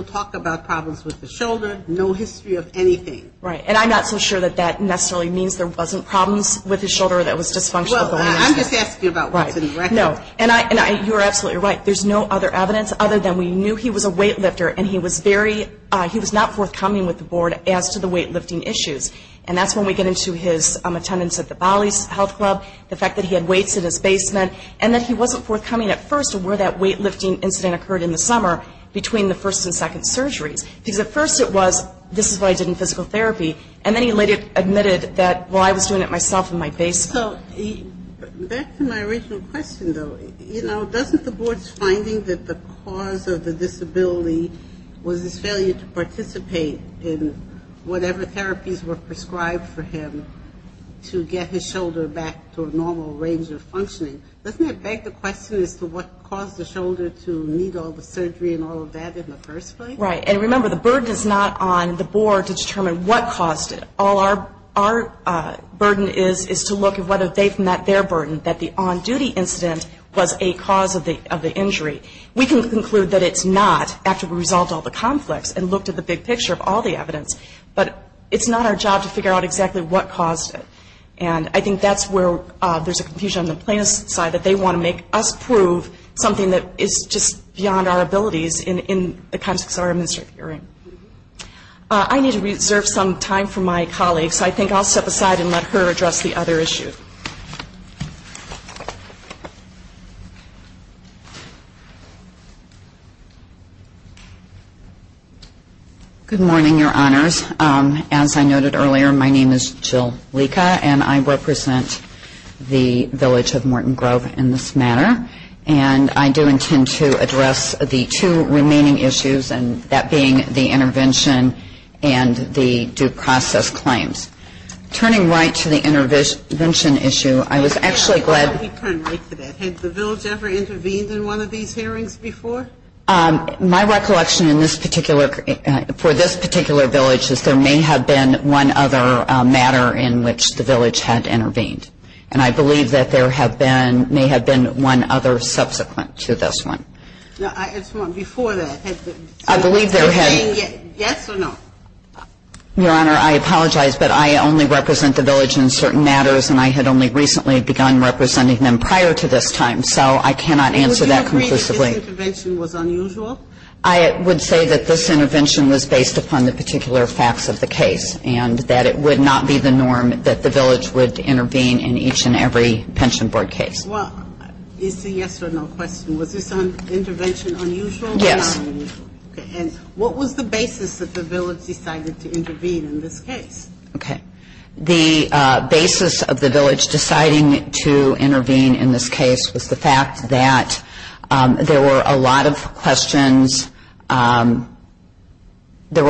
talk about problems with the shoulder, no history of anything. Right. And I'm not so sure that that necessarily means there wasn't problems with his shoulder that was dysfunctional. Well, I'm just asking about what's in the record. No. And you're absolutely right. There's no other evidence other than we knew he was a weightlifter and he was not forthcoming with the board as to the weightlifting issues. And that's when we get into his attendance at the OLLI Health Club, the fact that he had weights in his basement, and that he wasn't forthcoming at first with where that weightlifting incident occurred in the summer between the first and second surgery. Because at first it was, this is why I didn't do physical therapy. And then he later admitted that, well, I was doing it myself in my basement. So back to my original question, though. You know, doesn't the board's finding that the cause of the disability was a failure to participate in whatever therapies were prescribed for him to get his shoulder back to a normal range of functioning, doesn't it beg the question as to what caused the shoulder to need all the surgery and all of that in the first place? Right. And remember, the burden is not on the board to determine what caused it. All our burden is is to look at whether they've met their burden, that the on-duty incident was a cause of the injury. We can conclude that it's not after we resolved all the conflicts and looked at the big picture of all the evidence. But it's not our job to figure out exactly what caused it. And I think that's where there's a confusion on the plaintiff's side, that they want to make us prove something that is just beyond our abilities in the kinds of experiments you're hearing. I need to reserve some time for my colleague, so I think I'll step aside and let her address the other issues. As I noted earlier, my name is Jill Leka, and I represent the village of Morton Grove in this matter. And I do intend to address the two remaining issues, and that being the intervention and the due process claims. Turning right to the intervention issue, I was actually glad to... Why did you turn right today? Has the village ever intervened in one of these hearings before? My recollection for this particular village is there may have been one other matter in which the village had intervened. And I believe that there may have been one other subsequent to this one. I believe there had been. Yes or no? Your Honor, I apologize, but I only represent the village in certain matters, and I had only recently begun representing them prior to this time, so I cannot answer that concisely. Would you say that this intervention was unusual? I would say that this intervention was based upon the particular facts of the case, and that it would not be the norm that the village would intervene in each and every pension board case. Well, it's a yes or no question. Was this intervention unusual? Yes. And what was the basis that the village decided to intervene in this case? Okay. The basis of the village deciding to intervene in this case was the fact that there were a lot of questions. There were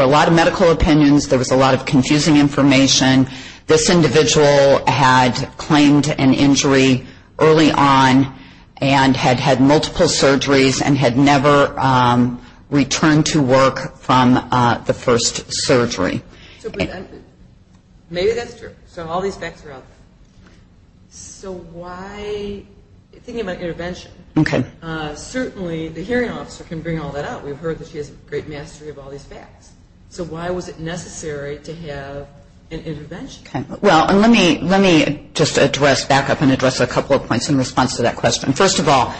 a lot of medical opinions. There was a lot of confusing information. This individual had claimed an injury early on and had had multiple surgeries and had never returned to work from the first surgery. Maybe that's true. So all these facts are out there. So why, thinking about intervention, certainly the hearing officer can bring all that up. We've heard that she has a great mastery of all these facts. So why was it necessary to have an intervention? Well, let me just back up and address a couple of points in response to that question. First of all,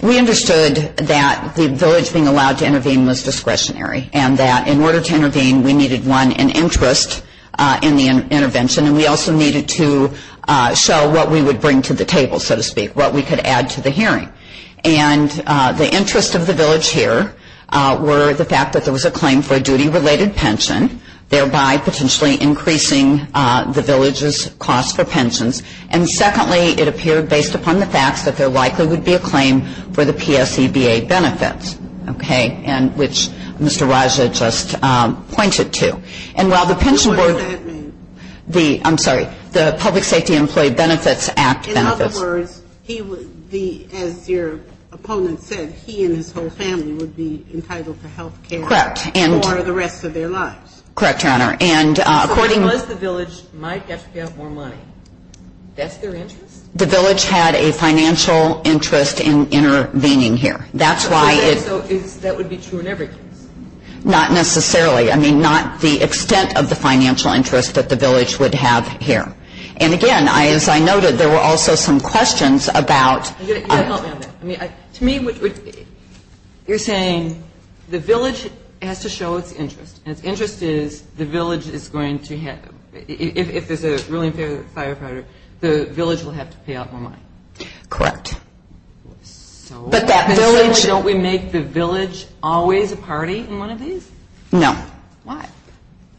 we understood that the village being allowed to intervene was discretionary and that in order to intervene, we needed, one, an interest in the intervention, and we also needed to show what we would bring to the table, so to speak, what we could add to the hearing. And the interest of the village here were the fact that there was a claim for a duty-related pension, thereby potentially increasing the village's cost for pensions. And secondly, it appeared based upon the fact that there likely would be a claim for the PSCBA benefits, okay, which Mr. Weiss had just pointed to. And while the pension board- What does that mean? I'm sorry. The Public Safety Employee Benefits Act benefits. In other words, he would be, as your opponent said, he and his whole family would be entitled to health care- Correct. For the rest of their lives. Correct, Your Honor. And according- But what if the village might get to have more money? That's their interest? The village had a financial interest in intervening here. That's why it- So that would be true in everything? Not necessarily. I mean, not the extent of the financial interest that the village would have here. And again, as I noted, there were also some questions about- To me, you're saying the village has to show its interest, and if interest is the village is going to have- if it's a really serious firefighter, the village will have to pay out more money. Correct. But that village- Don't we make the village always a party in one of these? No. Why?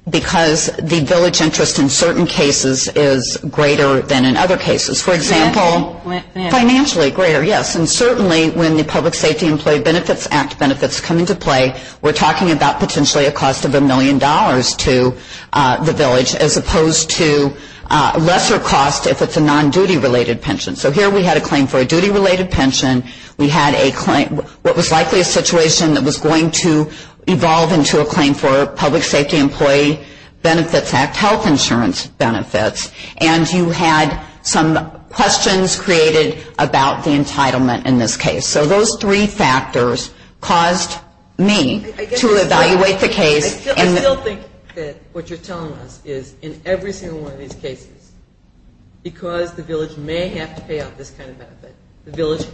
Because the village interest in certain cases is greater than in other cases. For example- Financially. Financially, greater, yes. And certainly, when the Public Safety Employee Benefits Act benefits come into play, we're talking about potentially a cost of a million dollars to the village, as opposed to a lesser cost if it's a non-duty related pension. So here we had a claim for a duty related pension. We had what was likely a situation that was going to evolve into a claim for Public Safety Employee Benefits Act health insurance benefits. And you had some questions created about the entitlement in this case. So those three factors caused me to evaluate the case- I still think that what you're telling us is in every single one of these cases, because the village may have to pay off this kind of benefit. The village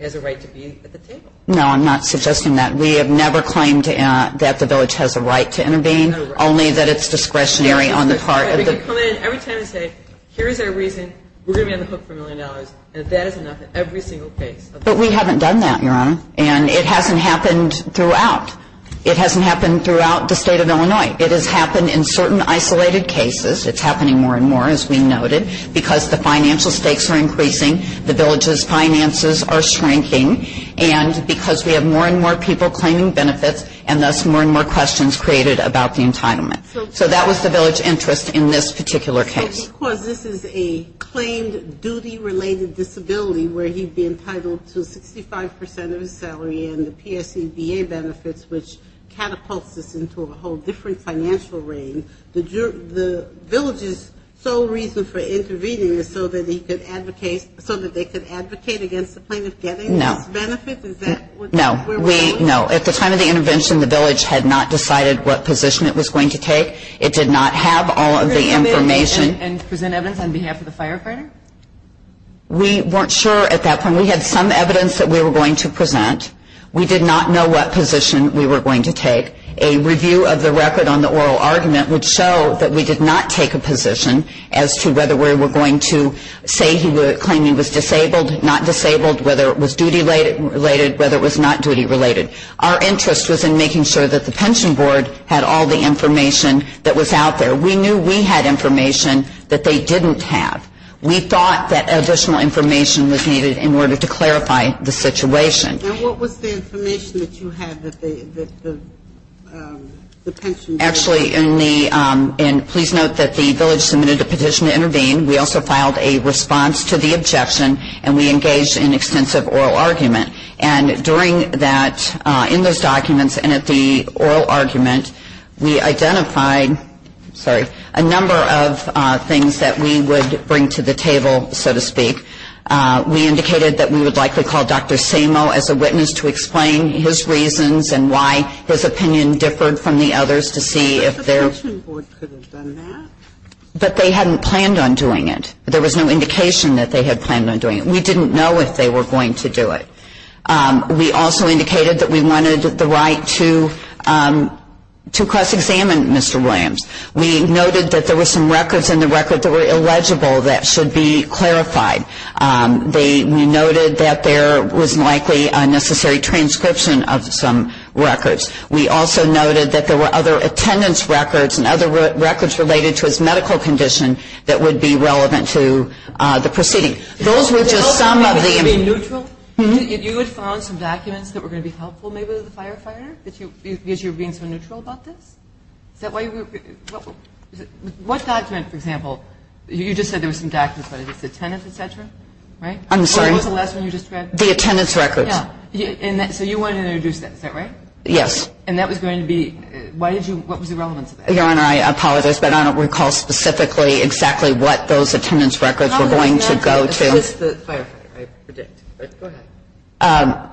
has a right to be at the table. No, I'm not suggesting that. We have never claimed that the village has the right to intervene, only that it's discretionary on the part of the- Every time you say, here's our reason, we're going to be on the hook for a million dollars, and that is enough in every single case. But we haven't done that, Your Honor, and it hasn't happened throughout. It hasn't happened throughout the state of Illinois. It has happened in certain isolated cases. It's happening more and more, as we noted, because the financial stakes are increasing, the village's finances are shrinking, and because we have more and more people claiming benefits, and that's more and more questions created about the entitlement. So that was the village's interest in this particular case. Because this is a claimed duty-related disability where he's been entitled to 65% of his salary and the PSEDA benefits, which catapults this into a whole different financial range, the village's sole reason for intervening is so that they can advocate against the plaintiff getting benefits? No. Is that where we're going? No. At the time of the intervention, the village had not decided what position it was going to take. It did not have all of the information. And present evidence on behalf of the firefighters? We weren't sure at that point. We had some evidence that we were going to present. We did not know what position we were going to take. A review of the record on the oral argument would show that we did not take a position as to whether we were going to say he was claiming he was disabled, not disabled, whether it was duty-related, whether it was not duty-related. Our interest was in making sure that the pension board had all the information that was out there. We knew we had information that they didn't have. We thought that additional information was needed in order to clarify the situation. And what was the information that you had that the pension board had? Actually, please note that the village submitted a petition to intervene. We also filed a response to the objection, and we engaged in extensive oral argument. And during that, in those documents and at the oral argument, we identified a number of things that we would bring to the table, so to speak. We indicated that we would like to call Dr. Samo as a witness to explain his reasons and why his opinion differed from the others to see if there's- The pension board could have done that? But they hadn't planned on doing it. There was no indication that they had planned on doing it. We didn't know if they were going to do it. We also indicated that we wanted the right to cross-examine Mr. Williams. We noted that there were some records in the record that were illegible that should be clarified. We noted that there was likely a necessary transcription of some records. We also noted that there were other attendance records and other records related to his medical condition that would be relevant to the proceeding. Those were just some of the- Were you neutral? Did you have some documents that were going to be helpful maybe to the firefighters? Because you were being so neutral about this? What documents, for example, you just said there were some documents, but it was the attendance, et cetera, right? I'm sorry. What was the last one you described? The attendance records. Yeah. So you wanted to introduce that, is that right? Yes. And that was going to be- Why did you- What was the relevance of that? Your Honor, I apologize, but I don't recall specifically exactly what those attendance records were going to go to. It was the firefighter, I predict. Go ahead.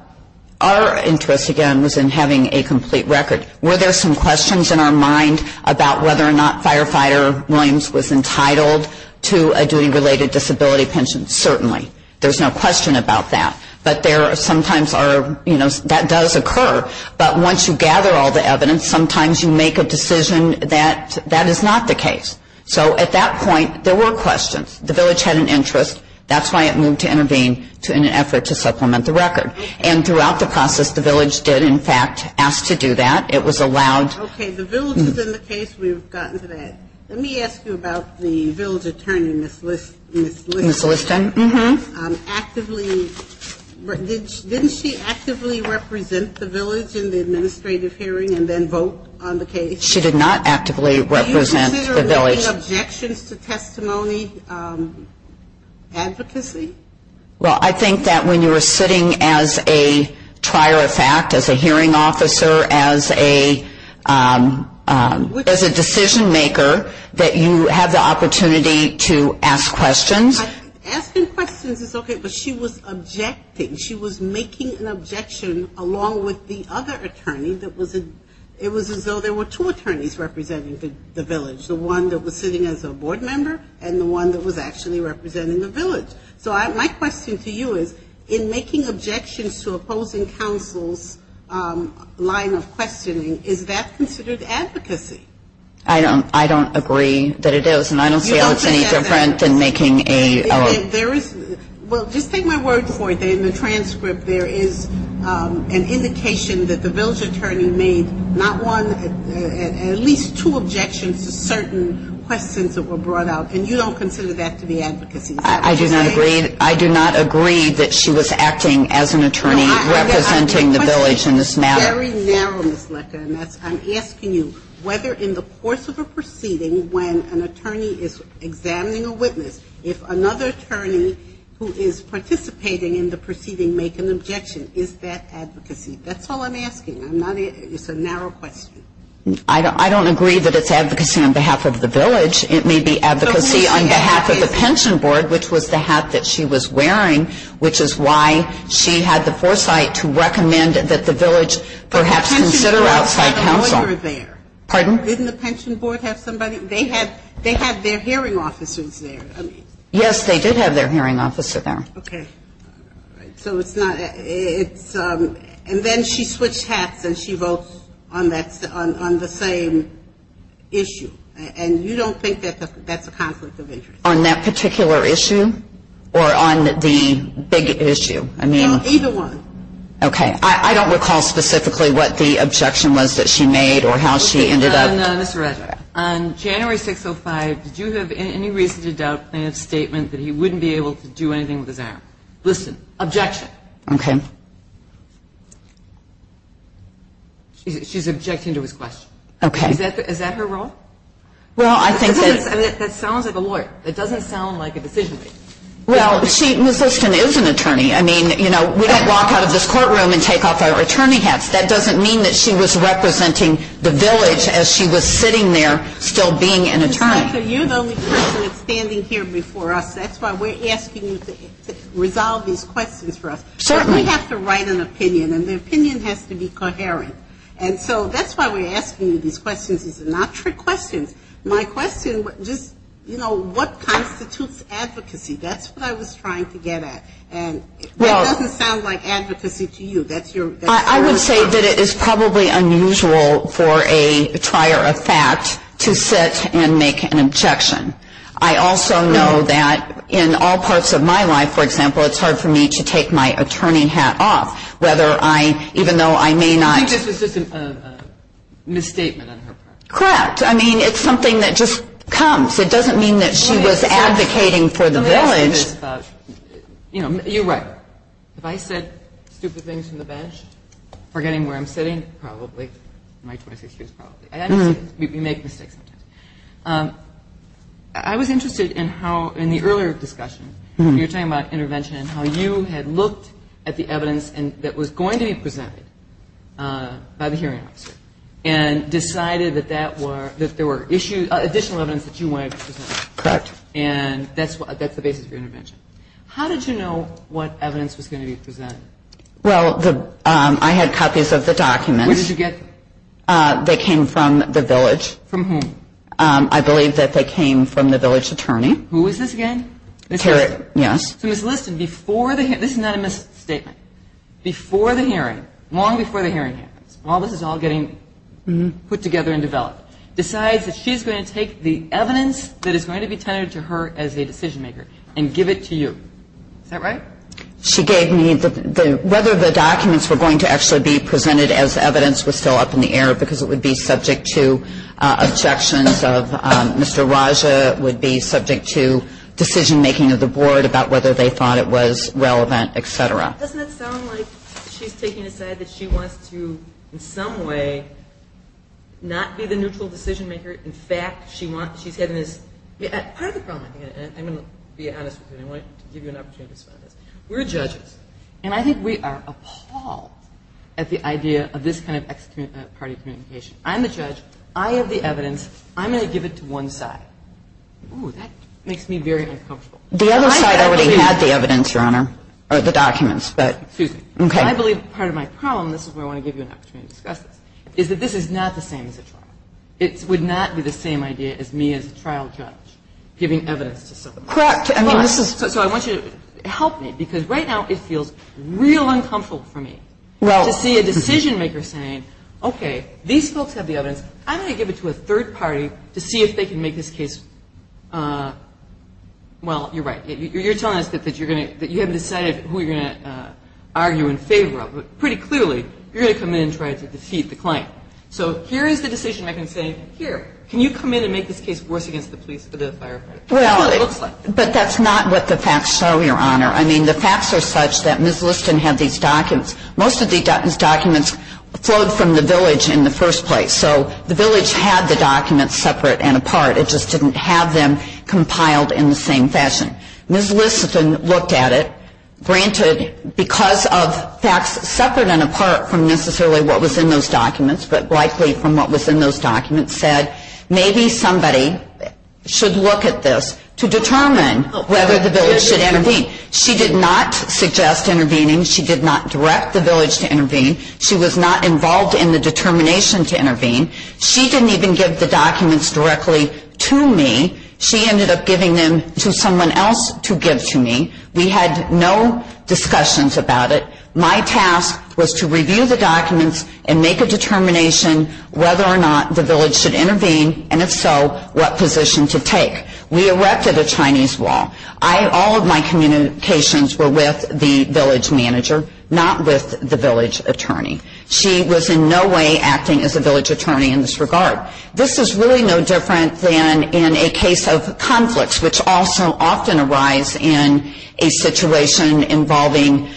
Our interest, again, was in having a complete record. Were there some questions in our mind about whether or not Firefighter Williams was entitled to a duty-related disability pension? Certainly. There's no question about that. But there sometimes are, you know, that does occur. But once you gather all the evidence, sometimes you make a decision that that is not the case. So at that point, there were questions. The village had an interest. That's why it moved to intervene in an effort to supplement the record. And throughout the process, the village did, in fact, ask to do that. It was allowed- Okay. The village has been the case. We've gotten to that. Let me ask you about the village attorney, Ms. Liston. Ms. Liston? Didn't she actively represent the village in the administrative hearing and then vote on the case? She did not actively represent the village. Were there any objections to testimony, advocacy? Well, I think that when you were sitting as a prior fact, as a hearing officer, as a decision-maker, that you had the opportunity to ask questions. Asking questions is okay, but she was objecting. She was making an objection along with the other attorneys. It was as though there were two attorneys representing the village, the one that was sitting as a board member and the one that was actually representing the village. So my question to you is, in making objections to opposing counsel's line of questioning, is that considered advocacy? I don't agree that it is, and I don't see any difference in making a- Well, just take my word for it that in the transcript there is an indication that the village attorney made not one and at least two objections to certain questions that were brought out, and you don't consider that to be advocacy? I do not agree that she was acting as an attorney representing the village in this matter. My question is very narrow, Ms. Liston. I'm asking you whether in the course of a proceeding, when an attorney is examining a witness, if another attorney who is participating in the proceeding make an objection, is that advocacy? That's all I'm asking. It's a narrow question. I don't agree that it's advocacy on behalf of the village. It may be advocacy on behalf of the pension board, which was the hat that she was wearing, which is why she had the foresight to recommend that the village perhaps consider outside counsel. Pardon? Didn't the pension board have somebody? They had their hearing officers there. Yes, they did have their hearing officer there. Okay. So it's not- and then she switched hats and she votes on the same issue, and you don't think that's a conflict of interest? On that particular issue or on the big issue? Either one. Okay. I don't recall specifically what the objection was that she made or how she ended up- No, that's what I said. On January 6, 2005, did you have any reason to doubt in his statement that he wouldn't be able to do anything with his arm? Liston, objection. Okay. She's objecting to his question. Okay. Is that her role? Well, I think that- That sounds like a lawyer. It doesn't sound like a decision-maker. Well, she- Ms. Dixon is an attorney. I mean, you know, we don't walk out of this courtroom and take off our attorney hats. That doesn't mean that she was representing the village as she was sitting there still being an attorney. Ms. Dixon, you know we were standing here before us. That's why we're asking you to resolve these questions for us. Certainly. We have to write an opinion, and the opinion has to be coherent. And so that's why we're asking you these questions. These are not trick questions. My question was just, you know, what constitutes advocacy? That's what I was trying to get at. It doesn't sound like advocacy to you. That's your- I would say that it is probably unusual for a trier of fact to sit and make an objection. I also know that in all parts of my life, for example, it's hard for me to take my attorney hat off, whether I- even though I may not- This is just a misstatement on her part. Correct. I mean, it's something that just comes. It doesn't mean that she was advocating for the village. You know, you're right. If I said stupid things to the bench, forgetting where I'm sitting, probably, in my 26 years, probably. You make mistakes sometimes. I was interested in how, in the earlier discussion, you were talking about intervention, and how you had looked at the evidence that was going to be presented by the hearing and decided that there were additional evidence that you wanted to present. Correct. And that's the basis of intervention. How did you know what evidence was going to be presented? Well, I had copies of the documents. What did you get? They came from the village. From whom? I believe that they came from the village attorney. Who is this again? Terry. Yes. So, listen, before the hearing- This is not a misstatement. Before the hearing, long before the hearing happened, while this is all getting put together and developed, decides that she's going to take the evidence that is going to be handed to her as a decision maker and give it to you. Is that right? She gave me whether the documents were going to actually be presented as evidence was still up in the air because it would be subject to objections of Mr. Raja, would be subject to decision making of the board about whether they thought it was relevant, etc. Doesn't it sound like she's taking a side that she wants to, in some way, not be the neutral decision maker. In fact, she wants- Part of the problem, and I'm going to be honest with you. I want to give you an opportunity to explain this. We're judges, and I think we are appalled at the idea of this kind of ex-community party communication. I'm the judge. I have the evidence. I'm going to give it to one side. Ooh, that makes me very uncomfortable. The other side already has the evidence, Your Honor, or the documents. Excuse me. I believe part of my problem, and this is where I want to give you an opportunity to discuss this, is that this is not the same as this one. It would not be the same idea as me as a trial judge giving evidence to someone. Correct. So I want you to help me because right now it feels real uncomfortable for me to see a decision maker saying, okay, these folks have the evidence. I'm going to give it to a third party to see if they can make this case. Well, you're right. You're telling us that you haven't decided who you're going to argue in favor of, but pretty clearly you're going to come in and try to deceive the client. So here is a decision making saying, here, can you come in and make this case worse against the police for the firefighters? But that's not what the facts show, Your Honor. I mean, the facts are such that Ms. Liston has these documents. These documents flowed from the village in the first place. So the village had the documents separate and apart. It just didn't have them compiled in the same fashion. Ms. Liston looked at it. Granted, because of facts separate and apart from necessarily what was in those documents, but likely from what was in those documents, said maybe somebody should look at this to determine whether the village should intervene. She did not suggest intervening. She did not direct the village to intervene. She was not involved in the determination to intervene. She didn't even give the documents directly to me. She ended up giving them to someone else to give to me. We had no discussions about it. My task was to review the documents and make a determination whether or not the village should intervene, and if so, what position to take. We erected a Chinese wall. All of my communications were with the village manager, not with the village attorney. She was in no way acting as a village attorney in this regard. This is really no different than in a case of conflicts, which also often arise in a situation involving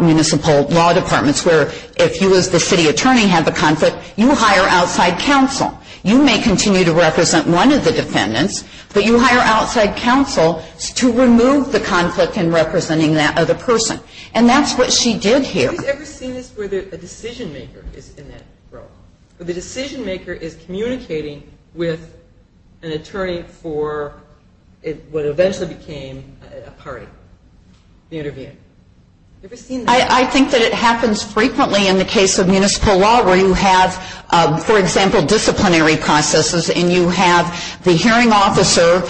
municipal law departments, where if you as the city attorney have a conflict, you hire outside counsel. You may continue to represent one of the defendants, but you hire outside counsel to remove the conflict in representing that other person, and that's what she did here. Have you ever seen this where a decision-maker is in that role? The decision-maker is communicating with an attorney for what eventually became a party. I think that it happens frequently in the case of municipal law where you have, for example, disciplinary processes, and you have the hearing officer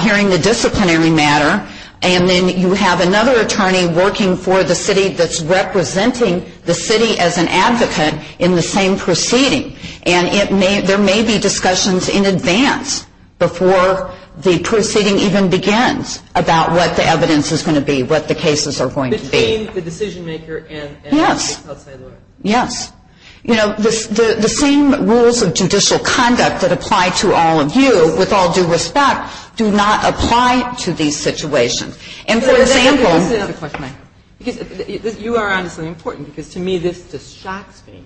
hearing the disciplinary matter, and then you have another attorney working for the city that's representing the city as an advocate in the same proceeding, and there may be discussions in advance before the proceeding even begins about what the evidence is going to be, what the cases are going to be. The same, the decision-maker and the counsel? Yes. Yes. You know, the same rules of judicial conduct that apply to all of you with all due respect do not apply to these situations. And, for example, you are absolutely important, because to me this just shocks me.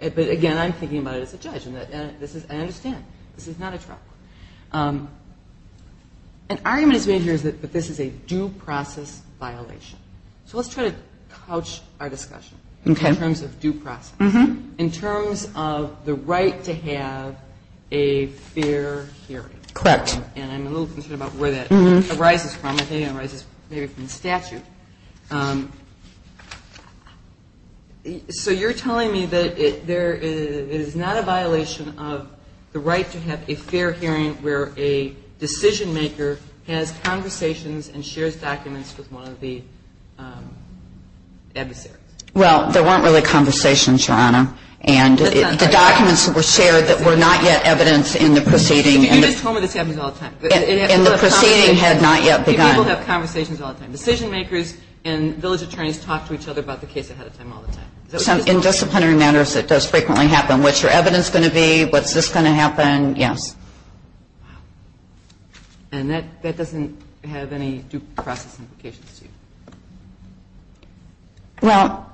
But, again, I'm thinking about it as a judge, and I understand. This is not a trial. An argument is made here that this is a due process violation. So let's try to couch our discussion in terms of due process. In terms of the right to have a fair hearing. Correct. And I'm a little concerned about where that arises from. I think it arises maybe from statute. So you're telling me that it is not a violation of the right to have a fair hearing where a decision-maker has conversations and shares documents with one of the adversaries? Well, there weren't really conversations, Your Honor. And the documents were shared that were not yet evident in the proceeding. You just told me this happens all the time. And the proceeding had not yet begun. People have conversations all the time. Decision-makers and village attorneys talk to each other about the case ahead of time all the time. In disciplinary matters, it does frequently happen. What's your evidence going to be? What's this going to happen? Yes. And that doesn't have any due process implications to you? Well,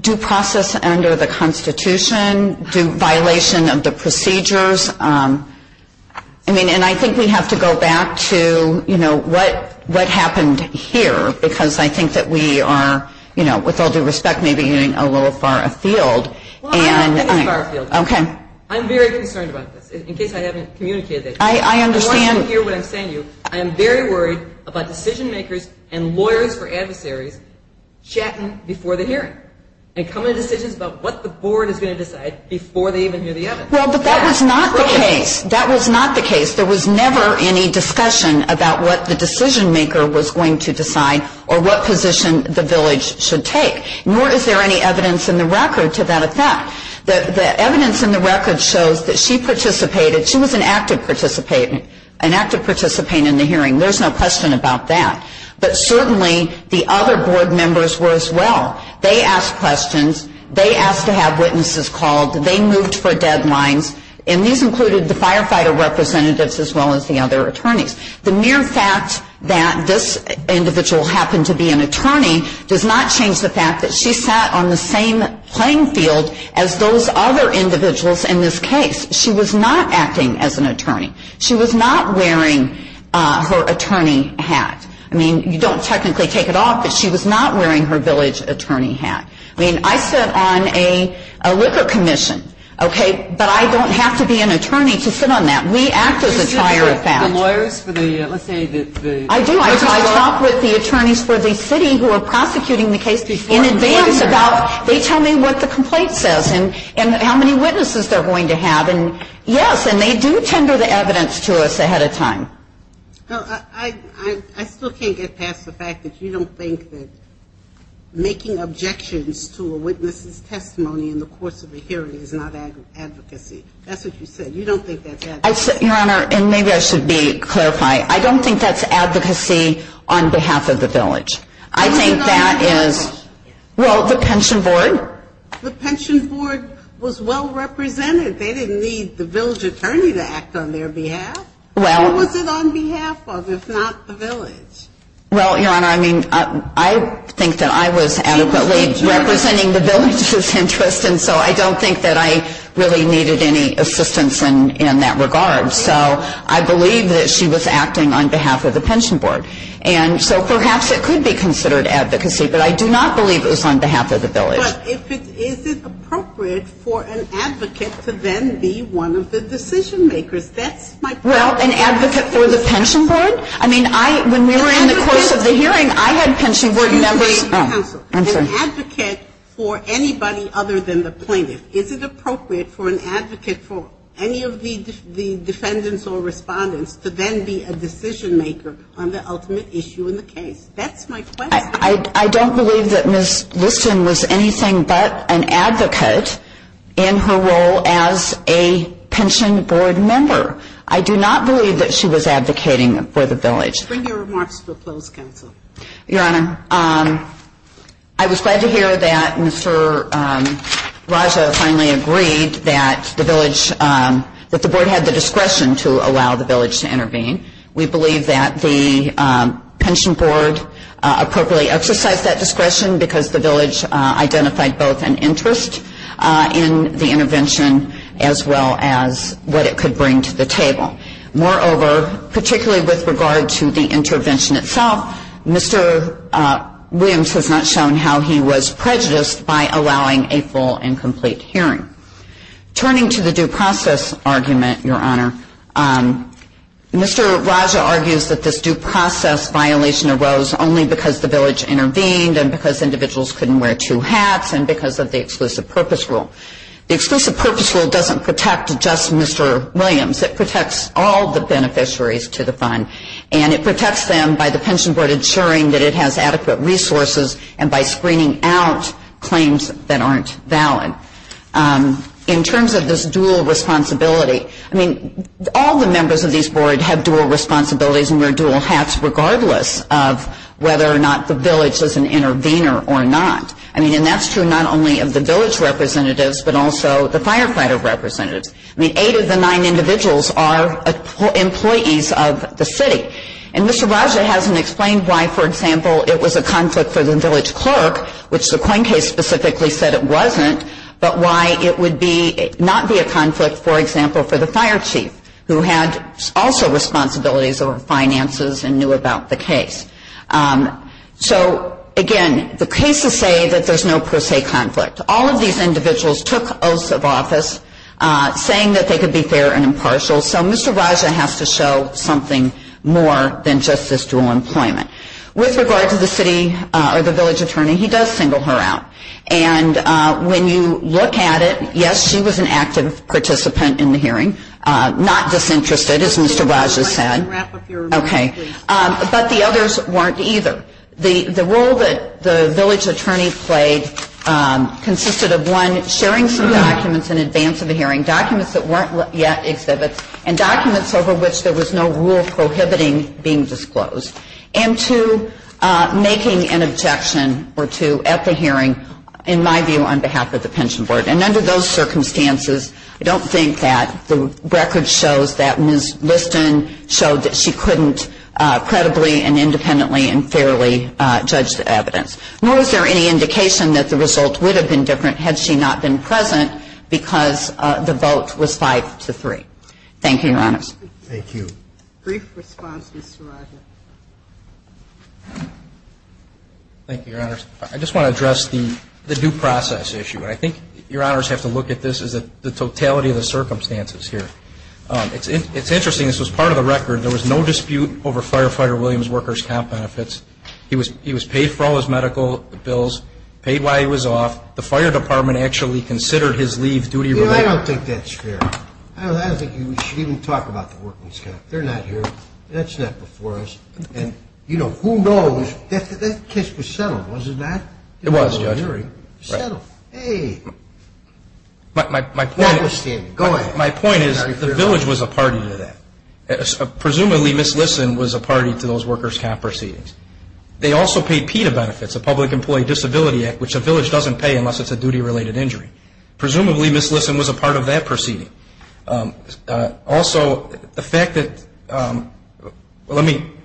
due process under the Constitution, due violation of the procedures. I mean, and I think we have to go back to, you know, what happened here, because I think that we are, you know, with all due respect, maybe a little far afield. Well, I think it's far afield. Okay. I'm very concerned about this, in case I haven't communicated it. I understand. I want you to hear what I'm saying to you. I am very worried about decision-makers and lawyers or adversaries chatting before the hearing and coming to decisions about what the board is going to decide before they even hear the evidence. Well, but that was not the case. That was not the case. There was never any discussion about what the decision-maker was going to decide or what position the village should take. Nor is there any evidence in the record to that effect. The evidence in the record shows that she participated. She was an active participant in the hearing. There's no question about that. But certainly the other board members were as well. They asked questions. They asked to have witnesses called. They moved for deadlines. And these included the firefighter representatives as well as the other attorneys. The mere fact that this individual happened to be an attorney does not change the fact that she sat on the same playing field as those other individuals in this case. She was not acting as an attorney. She was not wearing her attorney hat. I mean, you don't technically take it off, but she was not wearing her village attorney hat. I mean, I sit on a liquor commission, okay, but I don't have to be an attorney to sit on that. We act as a tier of that. I do. I talk with the attorneys for the city who are prosecuting the case in advance about they tell me what the complaint says and how many witnesses they're going to have. And, yes, and they do tender the evidence to us ahead of time. I still can't get past the fact that you don't think that making objections to a witness's testimony in the course of a hearing is not advocacy. That's what you said. You don't think that's advocacy. Your Honor, and maybe I should clarify, I don't think that's advocacy on behalf of the village. I think that is, well, the pension board. The pension board was well represented. They didn't need the village attorney to act on their behalf. Well. Who was it on behalf of if not the village? Well, Your Honor, I mean, I think that I was adequately representing the village's interest, and so I don't think that I really needed any assistance in that regard. So I believe that she was acting on behalf of the pension board. And so perhaps it could be considered advocacy, but I do not believe it was on behalf of the village. But is it appropriate for an advocate to then be one of the decision makers? Well, an advocate for the pension board? I mean, when we were in the course of the hearing, I had pension board members. An advocate for anybody other than the plaintiff. Is it appropriate for an advocate for any of the defendants or respondents to then be a decision maker on the ultimate issue in the case? That's my question. I don't believe that Ms. Lipson was anything but an advocate in her role as a pension board member. I do not believe that she was advocating for the village. Bring your remarks to a closed counsel. Your Honor, I was glad to hear that Mr. Raja finally agreed that the board had the discretion to allow the village to intervene. We believe that the pension board appropriately exercised that discretion because the village identified both an interest in the intervention as well as what it could bring to the table. Moreover, particularly with regard to the intervention itself, Mr. Williams has not shown how he was prejudiced by allowing a full and complete hearing. Turning to the due process argument, Your Honor, Mr. Raja argues that this due process violation arose only because the village intervened and because individuals couldn't wear two hats and because of the exclusive purpose rule. The exclusive purpose rule doesn't protect just Mr. Williams. It protects all the beneficiaries to the fund, and it protects them by the pension board ensuring that it has adequate resources and by screening out claims that aren't valid. In terms of this dual responsibility, I mean, all the members of these boards have dual responsibilities and wear dual hats regardless of whether or not the village is an intervener or not. I mean, and that's true not only of the village representatives but also the firefighter representatives. I mean, eight of the nine individuals are employees of the city. And Mr. Raja hasn't explained why, for example, it was a conflict for the village clerk, which the Coincase specifically said it wasn't, but why it would not be a conflict, for example, for the fire chief, who had also responsibilities over finances and knew about the case. So, again, the cases say that there's no per se conflict. All of these individuals took oaths of office saying that they could be fair and impartial. So Mr. Raja has to show something more than just this dual employment. With regard to the city or the village attorney, he does single her out. And when you look at it, yes, she was an active participant in the hearing, not disinterested, as Mr. Raja said. But the others weren't either. The role that the village attorney played consisted of, one, sharing some documents in advance of the hearing, documents that weren't yet exhibited, and documents over which there was no rule prohibiting being disclosed, and, two, making an objection or two at the hearing, in my view, on behalf of the pension board. And under those circumstances, I don't think that the record shows that Ms. Liston showed that she couldn't credibly and independently and fairly judge the evidence. Nor is there any indication that the result would have been different had she not been present because the vote was five to three. Thank you, Your Honors. Thank you. Brief response, Mr. Raja. Thank you, Your Honors. I just want to address the due process issue. I think Your Honors have to look at this as the totality of the circumstances here. It's interesting. This was part of the record. There was no dispute over Firefighter Williams' workers' comp benefits. He was paid for all his medical bills, paid while he was off. The fire department actually considered his leave duty. Well, I don't think that's fair. I don't think you should even talk about the working staff. They're not here. That's not before us. And, you know, who knows? That case was settled, wasn't it, Matt? It was, Judge. It was settled. Hey. My point is the village was a party to that. Presumably, Ms. Liston was a party to those workers' comp proceedings. They also paid PETA benefits, the Public Employee Disability Act, which a village doesn't pay unless it's a duty-related injury. Presumably, Ms. Liston was a part of that proceeding. Also, the fact that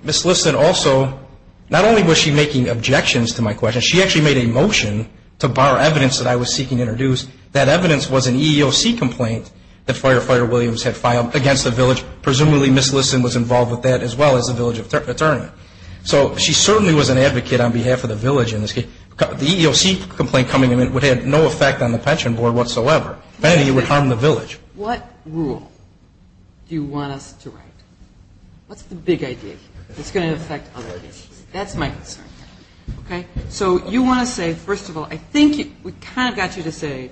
Ms. Liston also, not only was she making objections to my question, she actually made a motion to bar evidence that I was seeking to introduce. That evidence was an EEOC complaint that Firefighter Williams had filed against the village. Presumably, Ms. Liston was involved with that as well as the village attorney. So she certainly was an advocate on behalf of the village in this case. The EEOC complaint coming in would have no effect on the pension board whatsoever. And it would harm the village. What rule do you want us to write? What's the big idea here? It's going to affect our decision. That's my concern. Okay. So you want to say, first of all, I think we kind of got you to say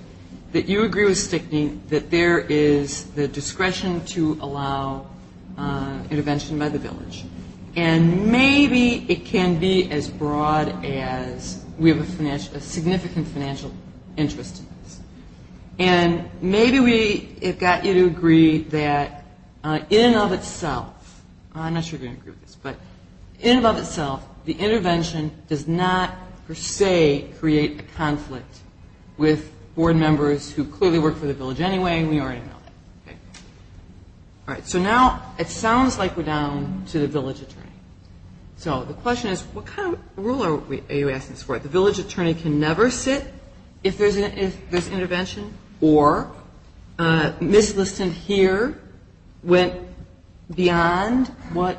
that you agree with Stickney that there is the discretion to allow intervention by the village. And maybe it can be as broad as we have a significant financial interest in this. And maybe we have got you to agree that in and of itself, I'm not sure if you agree with this, but in and of itself, the intervention does not, per se, create a conflict with board members who clearly work for the village anyway, and we already know that. All right. So now it sounds like we're down to the village attorney. So the question is, what kind of rule are you asking for? The village attorney can never sit if there's intervention, or Ms. Liston here went beyond what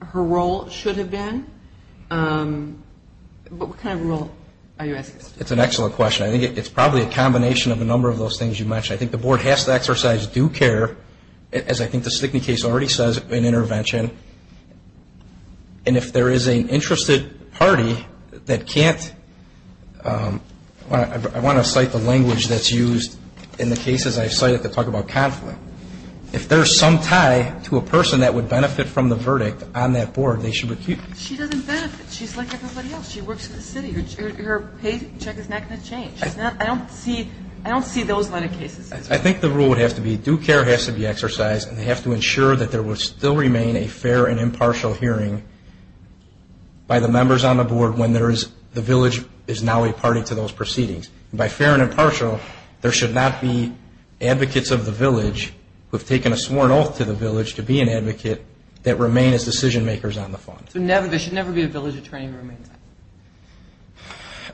her role should have been. What kind of rule are you asking for? It's an excellent question. I think it's probably a combination of a number of those things you mentioned. I think the board has to exercise due care, as I think the Stickney case already says, in intervention. And if there is an interested party that can't, I want to cite the language that's used in the cases I cited to talk about conflict. If there's some tie to a person that would benefit from the verdict on that board, they should be treated. She doesn't benefit. She's like everybody else. She works for the city. Her paycheck is not going to change. I don't see those kind of cases. I think the rule would have to be due care has to be exercised, and they have to ensure that there will still remain a fair and impartial hearing by the members on the board when the village is now a party to those proceedings. By fair and impartial, there should not be advocates of the village who have taken a sworn oath to the village to be an advocate that remain as decision makers on the phone. There should never be a village attorney.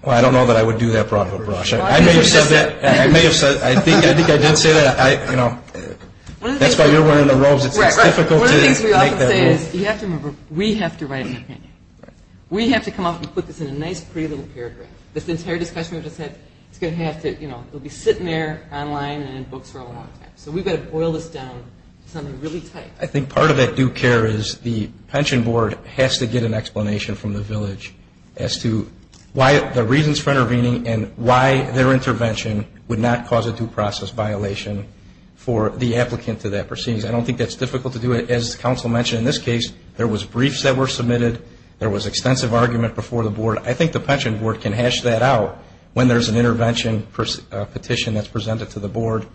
Well, I don't know that I would do that for Auditor Rush. I may have said that. I may have said that. I think I did say that. That's why you're one of the roles of difficulty. One of the things we like to say is we have to write the case. We have to come up and put this in a nice, pretty little paragraph. This entire discussion is going to have to be sitting there online and in books for a long time. So we've got to boil this down to something really tight. I think part of that due care is the pension board has to get an explanation from the village as to the reasons for intervening and why their intervention would not cause a due process violation for the applicant to that proceedings. I don't think that's difficult to do. As the Council mentioned in this case, there was briefs that were submitted. There was extensive argument before the board. I think the pension board can hash that out when there's an intervention petition that's presented to the board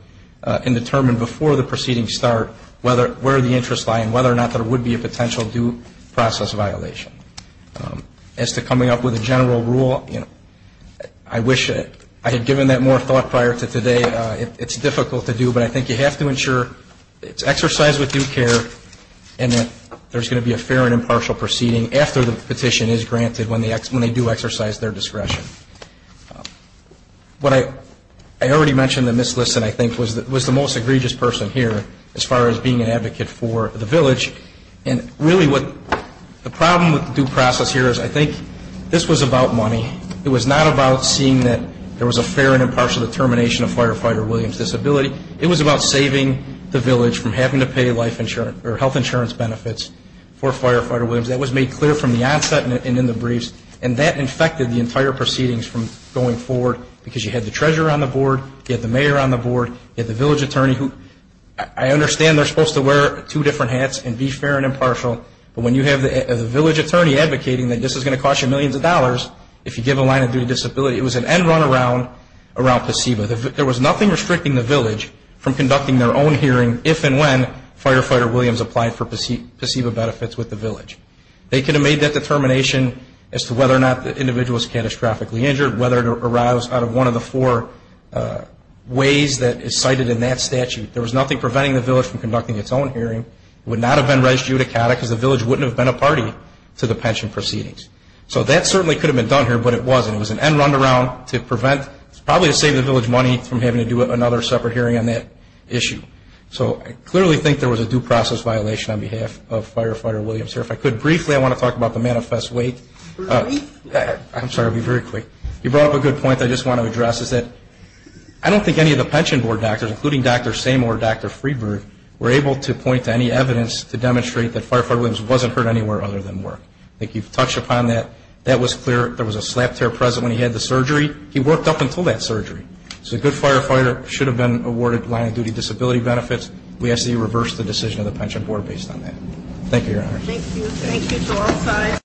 and determine before the proceedings start where the interests lie and whether or not there would be a potential due process violation. As to coming up with a general rule, I wish I had given that more thought prior to today. It's difficult to do, but I think you have to ensure it's exercised with due care and that there's going to be a fair and impartial proceeding after the petition is granted when they do exercise their discretion. I already mentioned that Ms. Liston, I think, was the most egregious person here as far as being an advocate for the village. Really, the problem with the due process here is I think this was about money. It was not about seeing that there was a fair and impartial determination of Firefighter Williams' disability. It was about saving the village from having to pay health insurance benefits for Firefighter Williams. That was made clear from the onset and in the briefs, and that infected the entire proceedings from going forward because you had the treasurer on the board, you had the mayor on the board, you had the village attorney. I understand they're supposed to wear two different hats and be fair and impartial, but when you have the village attorney advocating that this is going to cost you millions of dollars if you give a line of due disability, it was an end-runaround around PCEVA. There was nothing restricting the village from conducting their own hearing if and when Firefighter Williams applied for PCEVA benefits with the village. They could have made that determination as to whether or not the individual was catastrophically injured, whether it arose out of one of the four ways that is cited in that statute. There was nothing preventing the village from conducting its own hearing. It would not have been res judicata because the village wouldn't have been a party to the pension proceedings. So that certainly could have been done here, but it wasn't. It was an end-runaround to prevent, probably to save the village money from having to do another separate hearing on that issue. So I clearly think there was a due process violation on behalf of Firefighter Williams. If I could briefly, I want to talk about the manifest weight. I'm sorry, I'll be very quick. You brought up a good point that I just want to address. I don't think any of the pension board doctors, including Dr. Samor and Dr. Freeberg, were able to point to any evidence to demonstrate that Firefighter Williams wasn't hurt anywhere other than work. I think you've touched upon that. That was clear. There was a slap tear present when he had the surgery. He worked up until that surgery. So a good firefighter should have been awarded long-duty disability benefits. We actually reversed the decision of the pension board based on that. Thank you, Your Honor. Thank you.